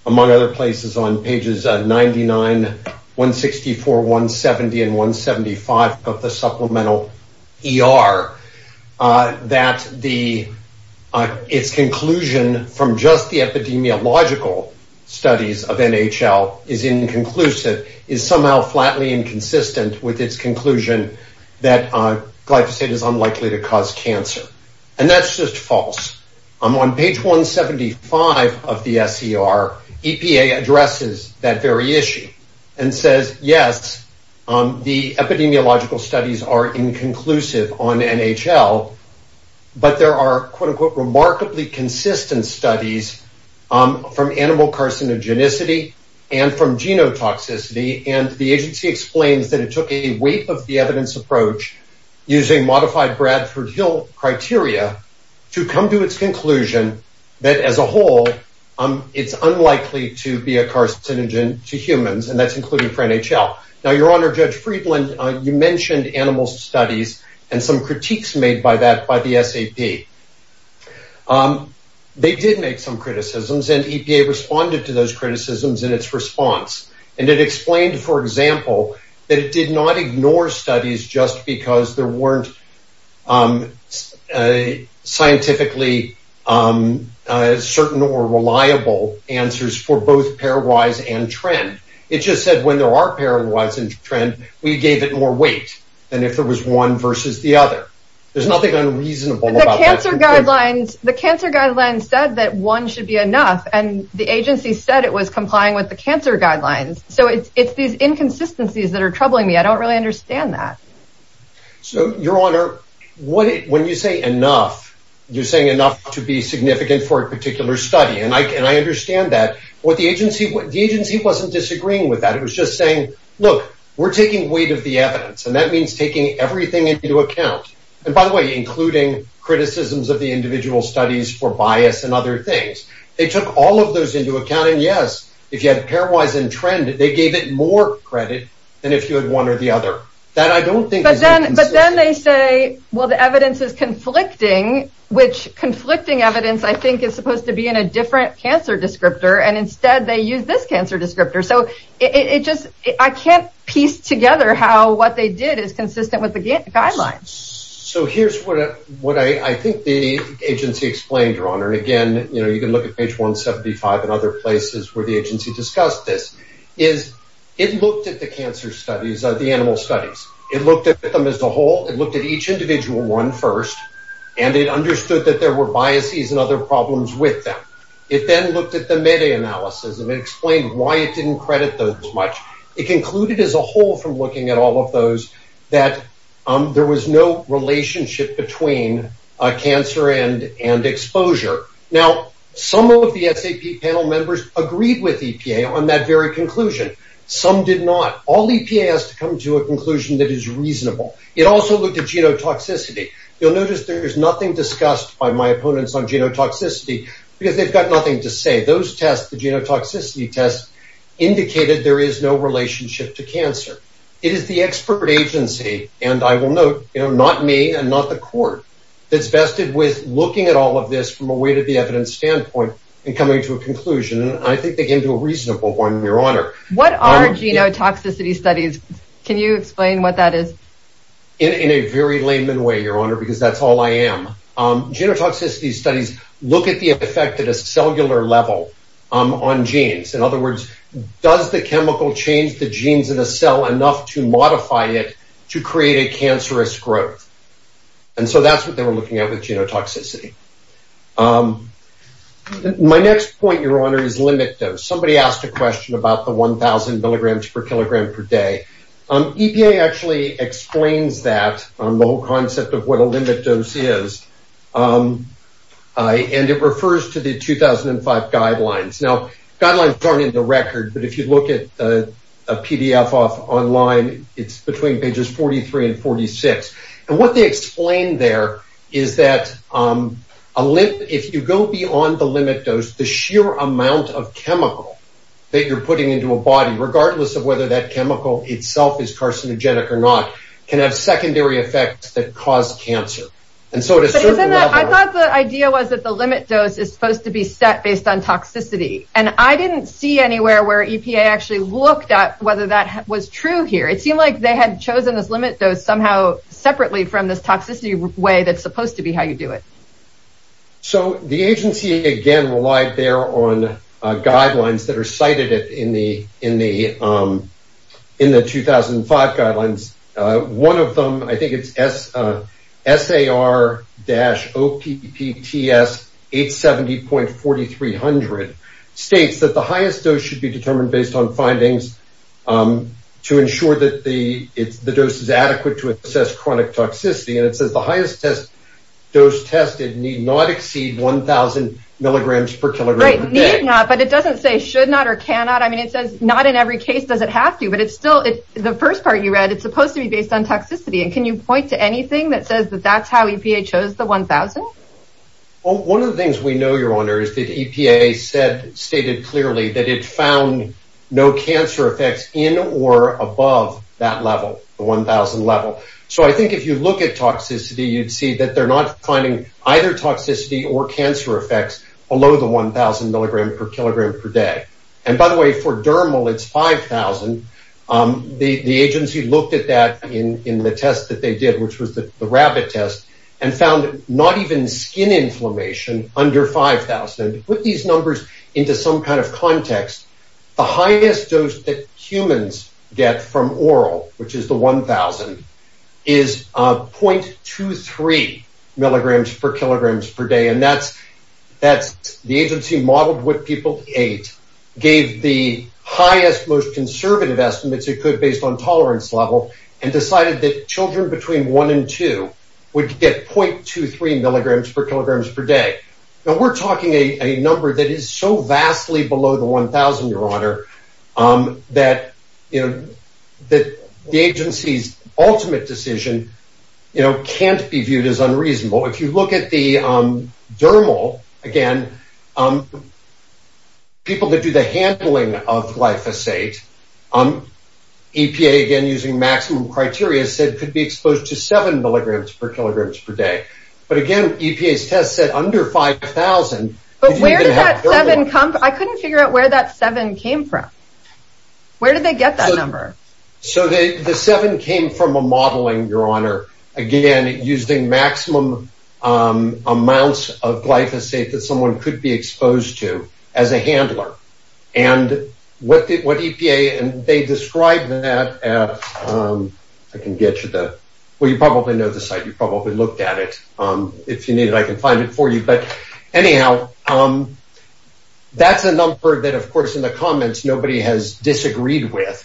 among other places on pages 99, 164, 170, and 175 of the supplemental ER, that its conclusion from just the epidemiological studies of NHL is inconclusive, is somehow flatly inconsistent with its conclusion that glyphosate is unlikely to cause cancer. And that's just false. On page 175 of the SCR, EPA addresses that very issue and says, yes, the epidemiological studies are inconclusive on NHL, but there are, quote, unquote, remarkably consistent studies from animal reference approach using modified Bradford Hill criteria to come to its conclusion that as a whole, it's unlikely to be a carcinogen to humans, and that's included for NHL. Now, Your Honor, Judge Friedland, you mentioned animal studies and some critiques made by that by the SAP. They did make some criticisms, and EPA responded to those criticisms just because there weren't scientifically certain or reliable answers for both pairwise and trend. It just said when there are pairwise and trend, we gave it more weight than if it was one versus the other. There's nothing unreasonable about that. The cancer guidelines said that one should be enough, and the agency said it was complying with the cancer guidelines. So it's these inconsistencies that are troubling me. I don't really understand that. Your Honor, when you say enough, you're saying enough to be significant for a particular study, and I understand that. The agency wasn't disagreeing with that. It was just saying, look, we're taking weight of the evidence, and that means taking everything into account. By the way, including criticisms of the individual studies for bias and other things. They took all of those into account, and yes, if you have pairwise and trend, they gave it more credit than if you had one or the other. But then they say, well, the evidence is conflicting, which conflicting evidence I think is supposed to be in a different cancer descriptor, and instead they use this cancer descriptor. So I can't piece together how what they did is consistent with the guidelines. So here's what I think the agency explained, Your Honor. Again, you can look at page 175 and other places where the agency discussed this. It looked at the cancer studies, the animal studies. It looked at them as a whole. It looked at each individual one first, and it understood that there were biases and other problems with them. It then looked at the meta-analysis and explained why it didn't credit those as much. It concluded as a whole from looking at all of those that there was no relationship between cancer and exposure. Now, some of the SAP panel members agreed with EPA on that very conclusion. Some did not. All EPA has to come to a conclusion that is reasonable. It also looked at genotoxicity. You'll notice there is nothing discussed by my opponents on genotoxicity because they've got nothing to say. Those tests, the genotoxicity tests, indicated there is no relationship to cancer. It is the expert agency, and I will note, not me and not the court, that's vested with looking at all of this from a way to the evidence standpoint and coming to a conclusion, and I think they came to a reasonable one, Your Honor. What are genotoxicity studies? Can you explain what that is? In a very layman way, Your Honor, because that's all I am. Genotoxicity studies look at the effect at a cellular level on genes. In other words, does the chemical change the genes in the cell enough to modify it to create a cancerous growth? And so that's what they were looking at with genotoxicity. My next point, Your Honor, is limit dose. Somebody asked a question about the 1,000 milligrams per kilogram per day. EPA actually explains that, the whole concept of what a limit dose is, and it refers to the 2005 guidelines. Now, guidelines aren't in the record, but if you look at a PDF online, it's between pages 43 and 46, and what they explain there is that if you go beyond the limit dose, the sheer amount of chemical that you're putting into a body, regardless of whether that chemical itself is carcinogenic or not, can have secondary effects that cause cancer. I thought the idea was that the limit dose is supposed to be set based on toxicity, and I didn't see anywhere where EPA actually looked at whether that was true here. It seemed like they had chosen this limit dose somehow separately from this toxicity way that's supposed to be how you do it. So the agency, again, relied there on guidelines that are cited in the 2005 guidelines. One of them, I think it's SAR-OPTTS 870.4300, states that the highest dose should be determined based on findings to ensure that the dose is adequate to assess chronic toxicity. And it says the highest dose tested need not exceed 1,000 milligrams per kilogram per day. Right, need not, but it doesn't say should not or cannot. I mean, it says not in every case does it have to, but the first part you read, it's supposed to be based on toxicity. And can you point to anything that says that that's how EPA chose the 1,000? Well, one of the things we know, Your Honor, is that EPA stated clearly that it found no cancer effects in or above that level, the 1,000 level. So I think if you look at toxicity, you'd see that they're not finding either toxicity or cancer effects below the 1,000 milligram per kilogram per day. And by the way, for dermal, it's 5,000. The agency looked at that in the test that they did, which was the rabbit test, and found not even skin inflammation under 5,000. So to put these numbers into some kind of context, the highest dose that humans get from oral, which is the 1,000, is 0.23 milligrams per kilogram per day. And the agency modeled what people ate, gave the highest, most conservative estimates it could based on tolerance level, and decided that children between one and two would get 0.23 milligrams per kilogram per day. Now, we're talking a number that is so vastly below the 1,000, Your Honor, that the agency's ultimate decision can't be viewed as unreasonable. If you look at the dermal, again, people that do the handling of glyphosate, EPA, again, using maximum criteria, said it could be exposed to 7 milligrams per kilogram per day. But again, EPA's test said under 5,000. But where did that 7 come from? I couldn't figure out where that 7 came from. Where did they get that number? So the 7 came from a modeling, Your Honor, again, using maximum amounts of glyphosate that someone could be exposed to as a handler. And what EPA, and they described that as, I can get you the, well, you probably know the site. You probably looked at it. If you need it, I can find it for you. But anyhow, that's a number that, of course, in the comments, nobody has disagreed with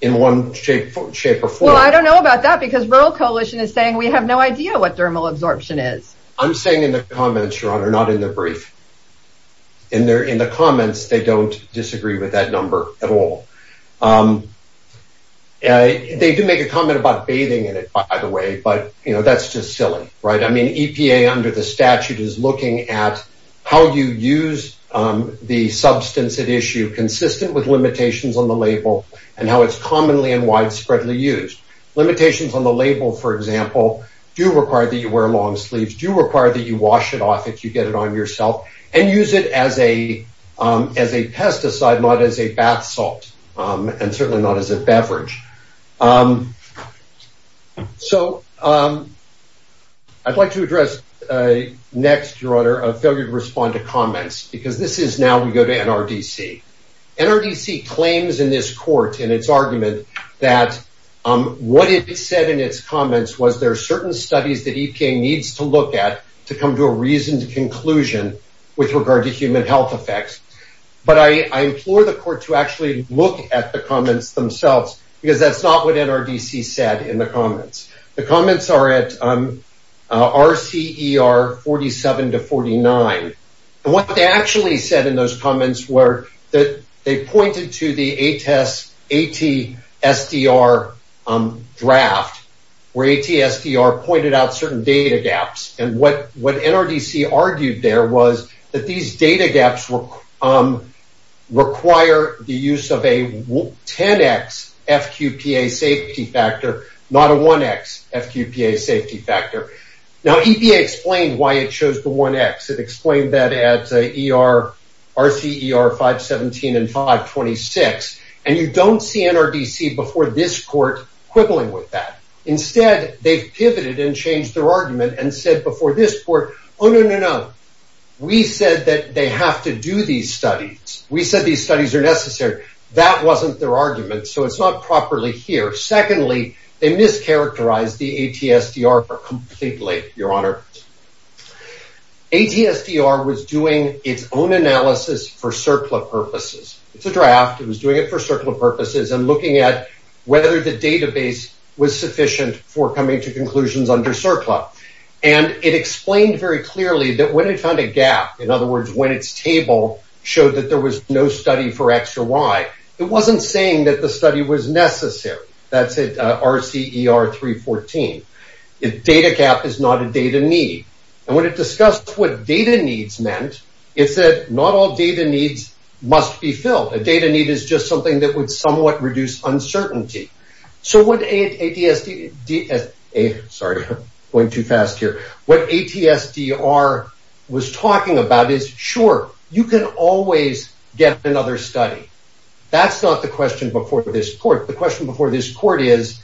in one shape or form. Well, I don't know about that, because Rural Coalition is saying we have no idea what dermal absorption is. I'm saying in the comments, Your Honor, not in the brief. In the comments, they don't disagree with that number at all. They did make a comment about bathing in it, by the way. But, you know, that's just silly, right? I mean, EPA under the statute is looking at how you use the substance at issue consistent with limitations on the label and how it's commonly and widespreadly used. Limitations on the label, for example, do require that you wear long sleeves. Do require that you wash it off if you get it on yourself and use it as a pesticide, not as a bath salt, and certainly not as a beverage. So I'd like to address next, Your Honor, a failure to respond to comments, because this is now we go to NRDC. NRDC claims in this court in its argument that what it said in its comments was there are certain studies that EPA needs to look at to come to a reasoned conclusion with regard to human health effects. But I implore the court to actually look at the comments themselves, because that's not what NRDC said in the comments. The comments are at RCER 47 to 49. And what they actually said in those comments were that they pointed to the ATSDR draft, where ATSDR pointed out certain data gaps. And what NRDC argued there was that these data gaps require the use of a 10x FQPA safety factor, not a 1x FQPA safety factor. Now, EPA explained why it chose the 1x. It explained that at RCER 517 and 526. And you don't see NRDC before this court quibbling with that. Instead, they pivoted and changed their argument and said before this court, oh, no, no, no. We said that they have to do these studies. We said these studies are necessary. That wasn't their argument. So it's not properly here. Secondly, they mischaracterized the ATSDR. Your Honor, ATSDR was doing its own analysis for CERCLA purposes. It's a draft. It was doing it for CERCLA purposes and looking at whether the database was sufficient for coming to conclusions under CERCLA. And it explained very clearly that when it found a gap, in other words, when its table showed that there was no study for X or Y, it wasn't saying that the study was necessary. That's at RCER 314. Data gap is not a data need. And when it discussed what data needs meant, it said not all data needs must be filled. A data need is just something that would somewhat reduce uncertainty. So what ATSDR was talking about is, sure, you can always get another study. That's not the question before this court. The question before this court is,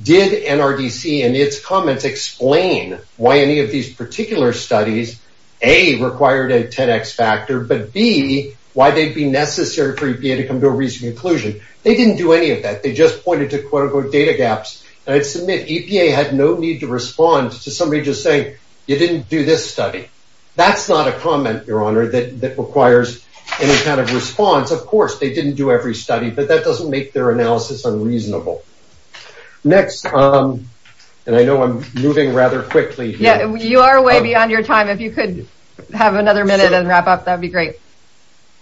did NRDC in its comments explain why any of these particular studies, A, required a 10X factor, but B, why they'd be necessary for EPA to come to a reasonable conclusion? They didn't do any of that. They just pointed to quotable data gaps. And I submit EPA had no need to respond to somebody just saying, you didn't do this study. That's not a comment, Your Honor, that requires any kind of response. Of course, they didn't do every study, but that doesn't make their analysis unreasonable. Next, and I know I'm moving rather quickly here. You are way beyond your time. If you could have another minute and wrap up, that would be great.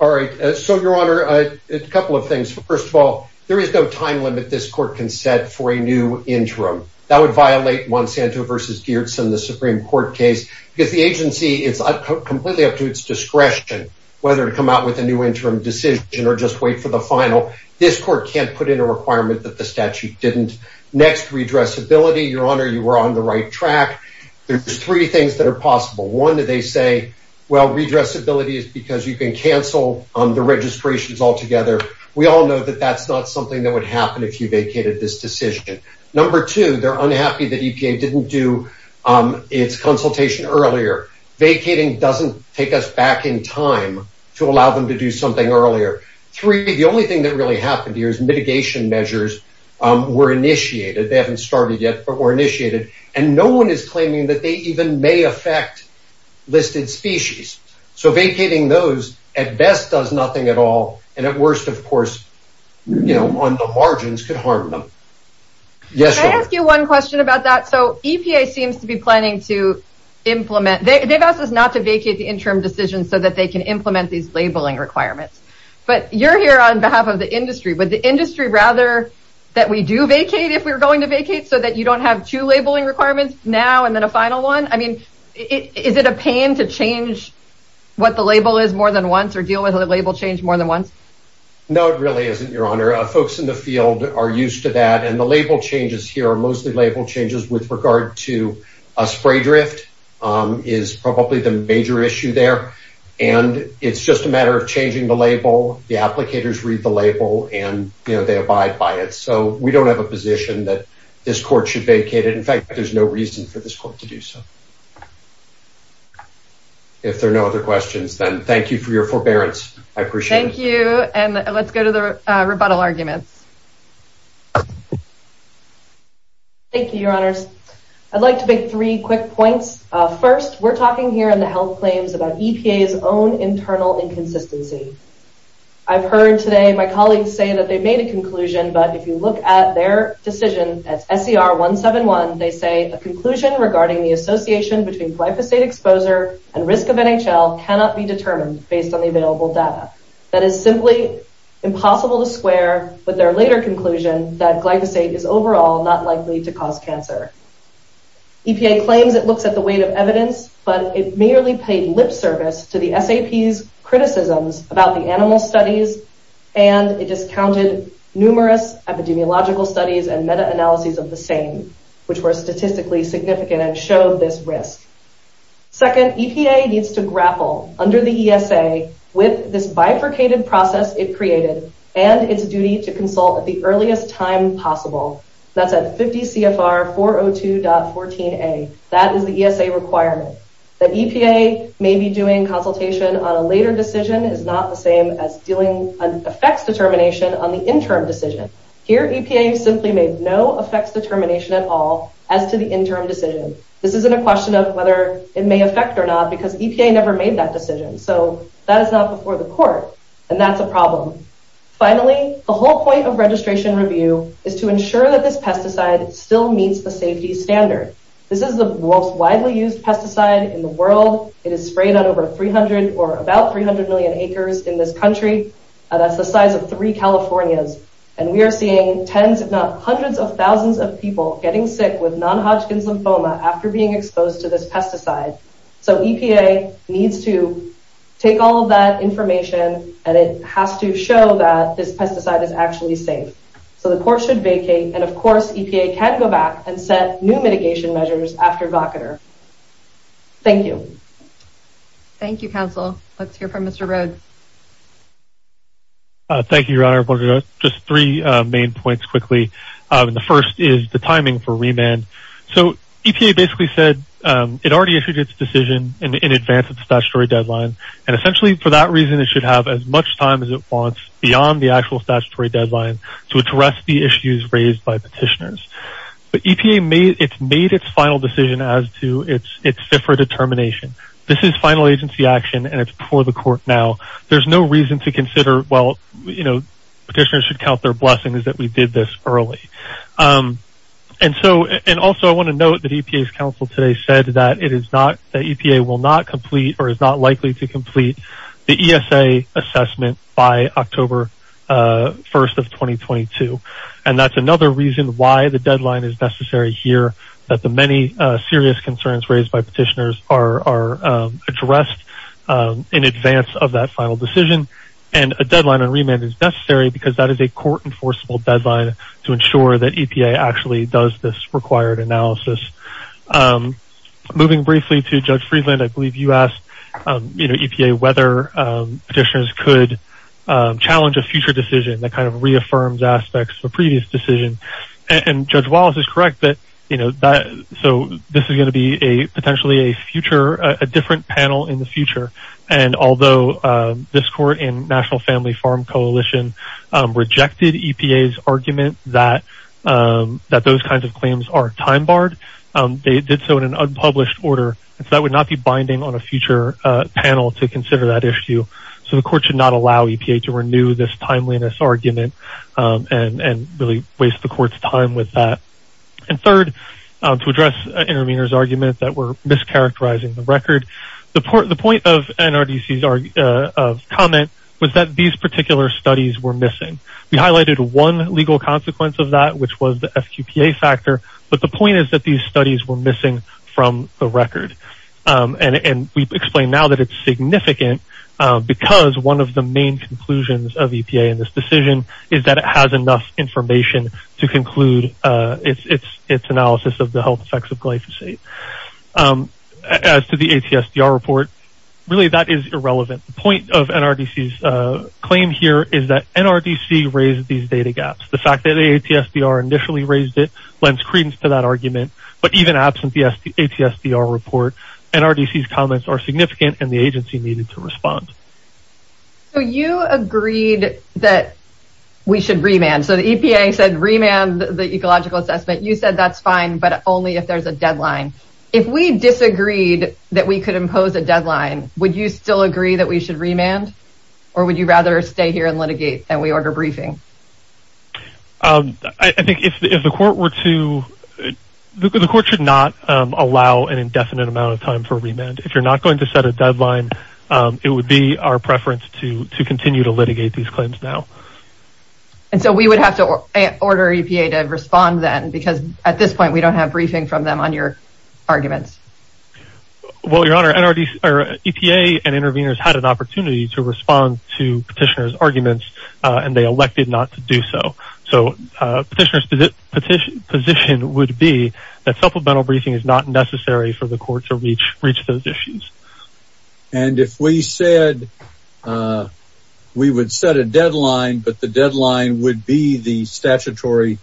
All right. So, Your Honor, a couple of things. First of all, there is no time limit this court can set for a new interim. That would violate Monsanto versus Geertsen, the Supreme Court case, because the agency is completely up to its discretion whether to come out with a new interim decision or just wait for the final. This court can't put in a requirement that the statute didn't. Next, redressability, Your Honor, you were on the right track. There's three things that are possible. One, they say, well, redressability is because you can cancel the registrations altogether. We all know that that's not something that would happen if you vacated this decision. Number two, they're unhappy that EPA didn't do its consultation earlier. Vacating doesn't take us back in time to allow them to do something earlier. Three, the only thing that really happened here is mitigation measures were initiated. They haven't started yet, but were initiated. And no one is claiming that they even may affect listed species. So vacating those, at best, does nothing at all. And at worst, of course, you know, on the margins, can harm them. Yes? Can I ask you one question about that? So EPA seems to be planning to implement – they've asked us not to vacate the interim decision so that they can implement these labeling requirements. But you're here on behalf of the industry. Would the industry rather that we do vacate if we were going to vacate so that you don't have two labeling requirements now and then a final one? I mean, is it a pain to change what the label is more than once or deal with a label change more than once? No, it really isn't, Your Honor. Folks in the field are used to that. And the label changes here are mostly label changes with regard to a spray drift is probably the major issue there. And it's just a matter of changing the label. The applicators read the label and, you know, they abide by it. So we don't have a position that this court should vacate it. In fact, there's no reason for this court to do so. If there are no other questions, then thank you for your forbearance. I appreciate it. Thank you. And let's go to the rebuttal argument. Thank you, Your Honors. I'd like to make three quick points. First, we're talking here in the health claims about EPA's own internal inconsistency. I've heard today my colleagues say that they've made a conclusion, but if you look at their decision at SDR 171, they say a conclusion regarding the association between glyphosate exposure and risk of NHL cannot be determined based on the available data. That is simply impossible to square with their later conclusion that glyphosate is overall not likely to cause cancer. EPA claimed it looked at the weight of evidence, but it merely paid lip service to the FAP's criticisms about the animal studies and it discounted numerous epidemiological studies and meta-analyses of the same, which were statistically significant and showed this risk. Second, EPA needs to grapple under the ESA with this bifurcated process it created and its duty to consult at the earliest time possible. That's at 50 CFR 402.14a. That is the ESA requirement. That EPA may be doing consultation on a later decision is not the same as doing an effects determination on the interim decision. Here, EPA simply made no effects determination at all as to the interim decision. This isn't a question of whether it may affect or not because EPA never made that decision. So that is not before the court. And that's a problem. Finally, the whole point of registration review is to ensure that this pesticide still meets the safety standards. This is the most widely used pesticide in the world. It is sprayed on over 300 or about 300 million acres in this country. That's the size of three Californias. And we are seeing tens if not hundreds of thousands of people getting sick with non-Hodgkin's lymphoma after being exposed to this pesticide. So EPA needs to take all of that information and it has to show that this pesticide is actually safe. So the court should vacate. And, of course, EPA can go back and set new mitigation measures after VOCADR. Thank you. Thank you, counsel. Let's hear from Mr. Rhodes. Thank you, Your Honor. Just three main points quickly. The first is the timing for remand. So EPA basically said it already issued its decision in advance of the statutory deadline. And essentially for that reason it should have as much time as it wants beyond the actual statutory deadline to address the issues raised by petitioners. But EPA made its final decision as to its FFRA determination. This is final agency action and it's before the court now. There's no reason to consider, well, you know, petitioners should count their blessings that we did this early. And also I want to note that EPA's counsel today said that it is not that EPA will not complete or is not likely to complete the ESA assessment by October 1st of 2022. And that's another reason why the deadline is necessary here that the many serious concerns raised by petitioners are addressed in advance of that final decision. And a deadline on remand is necessary because that is a court enforceable deadline to ensure that EPA actually does this required analysis. Moving briefly to Judge Friedland, I believe you asked, you know, EPA whether petitioners could challenge a future decision that kind of reaffirms aspects of a previous decision. And Judge Wallace is correct that, you know, so this is going to be a potentially a future, a different panel in the future. And although this court in National Family Farm Coalition rejected EPA's argument that those kinds of claims are time barred, they did so in an unpublished order. That would not be binding on a future panel to consider that issue. So the court should not allow EPA to renew this timeliness argument and really waste the court's time with that. And third, to address Aaron Miner's argument that we're mischaracterizing the record, the point of NRDC's comment was that these particular studies were missing. We highlighted one legal consequence of that, which was the FQPA factor. But the point is that these studies were missing from the record. And we've explained now that it's significant because one of the main conclusions of EPA in this decision is that it has enough information to conclude its analysis of the health effects of glyphosate. As to the ATSDR report, really that is irrelevant. The point of NRDC's claim here is that NRDC raised these data gaps. The fact that ATSDR initially raised it lends credence to that argument. But even absent the ATSDR report, NRDC's comments are significant and the agency needed to respond. So you agreed that we should remand. So the EPA said remand the ecological assessment. You said that's fine, but only if there's a deadline. If we disagreed that we could impose a deadline, would you still agree that we should remand? Or would you rather stay here and litigate and we order briefings? I think if the court were to... The court should not allow an indefinite amount of time for remand. If you're not going to set a deadline, it would be our preference to continue to litigate these claims now. And so we would have to order EPA to respond then? Because at this point we don't have briefing from them on your arguments. EPA and interveners had an opportunity to respond to petitioner's arguments and they elected not to do so. So petitioner's position would be that supplemental briefing is not necessary for the court to reach those issues. And if we said... We would set a deadline, but the deadline would be the statutory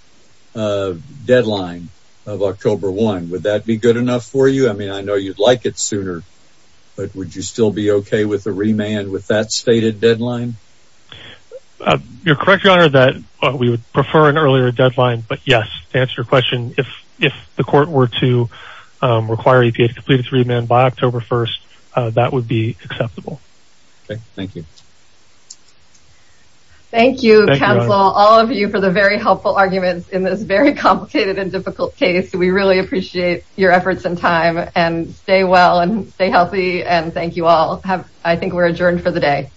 deadline of October 1. Would that be good enough for you? I mean, I know you'd like it sooner, but would you still be okay with the remand with that stated deadline? You're correct, Your Honor, that we would prefer an earlier deadline. But yes, to answer your question, if the court were to require EPA to complete its remand by October 1, that would be acceptable. Thank you. Thank you, counsel, all of you for the very helpful arguments in this very complicated and difficult case. We really appreciate your efforts and time. And stay well and stay healthy and thank you all. I think we're adjourned for the day.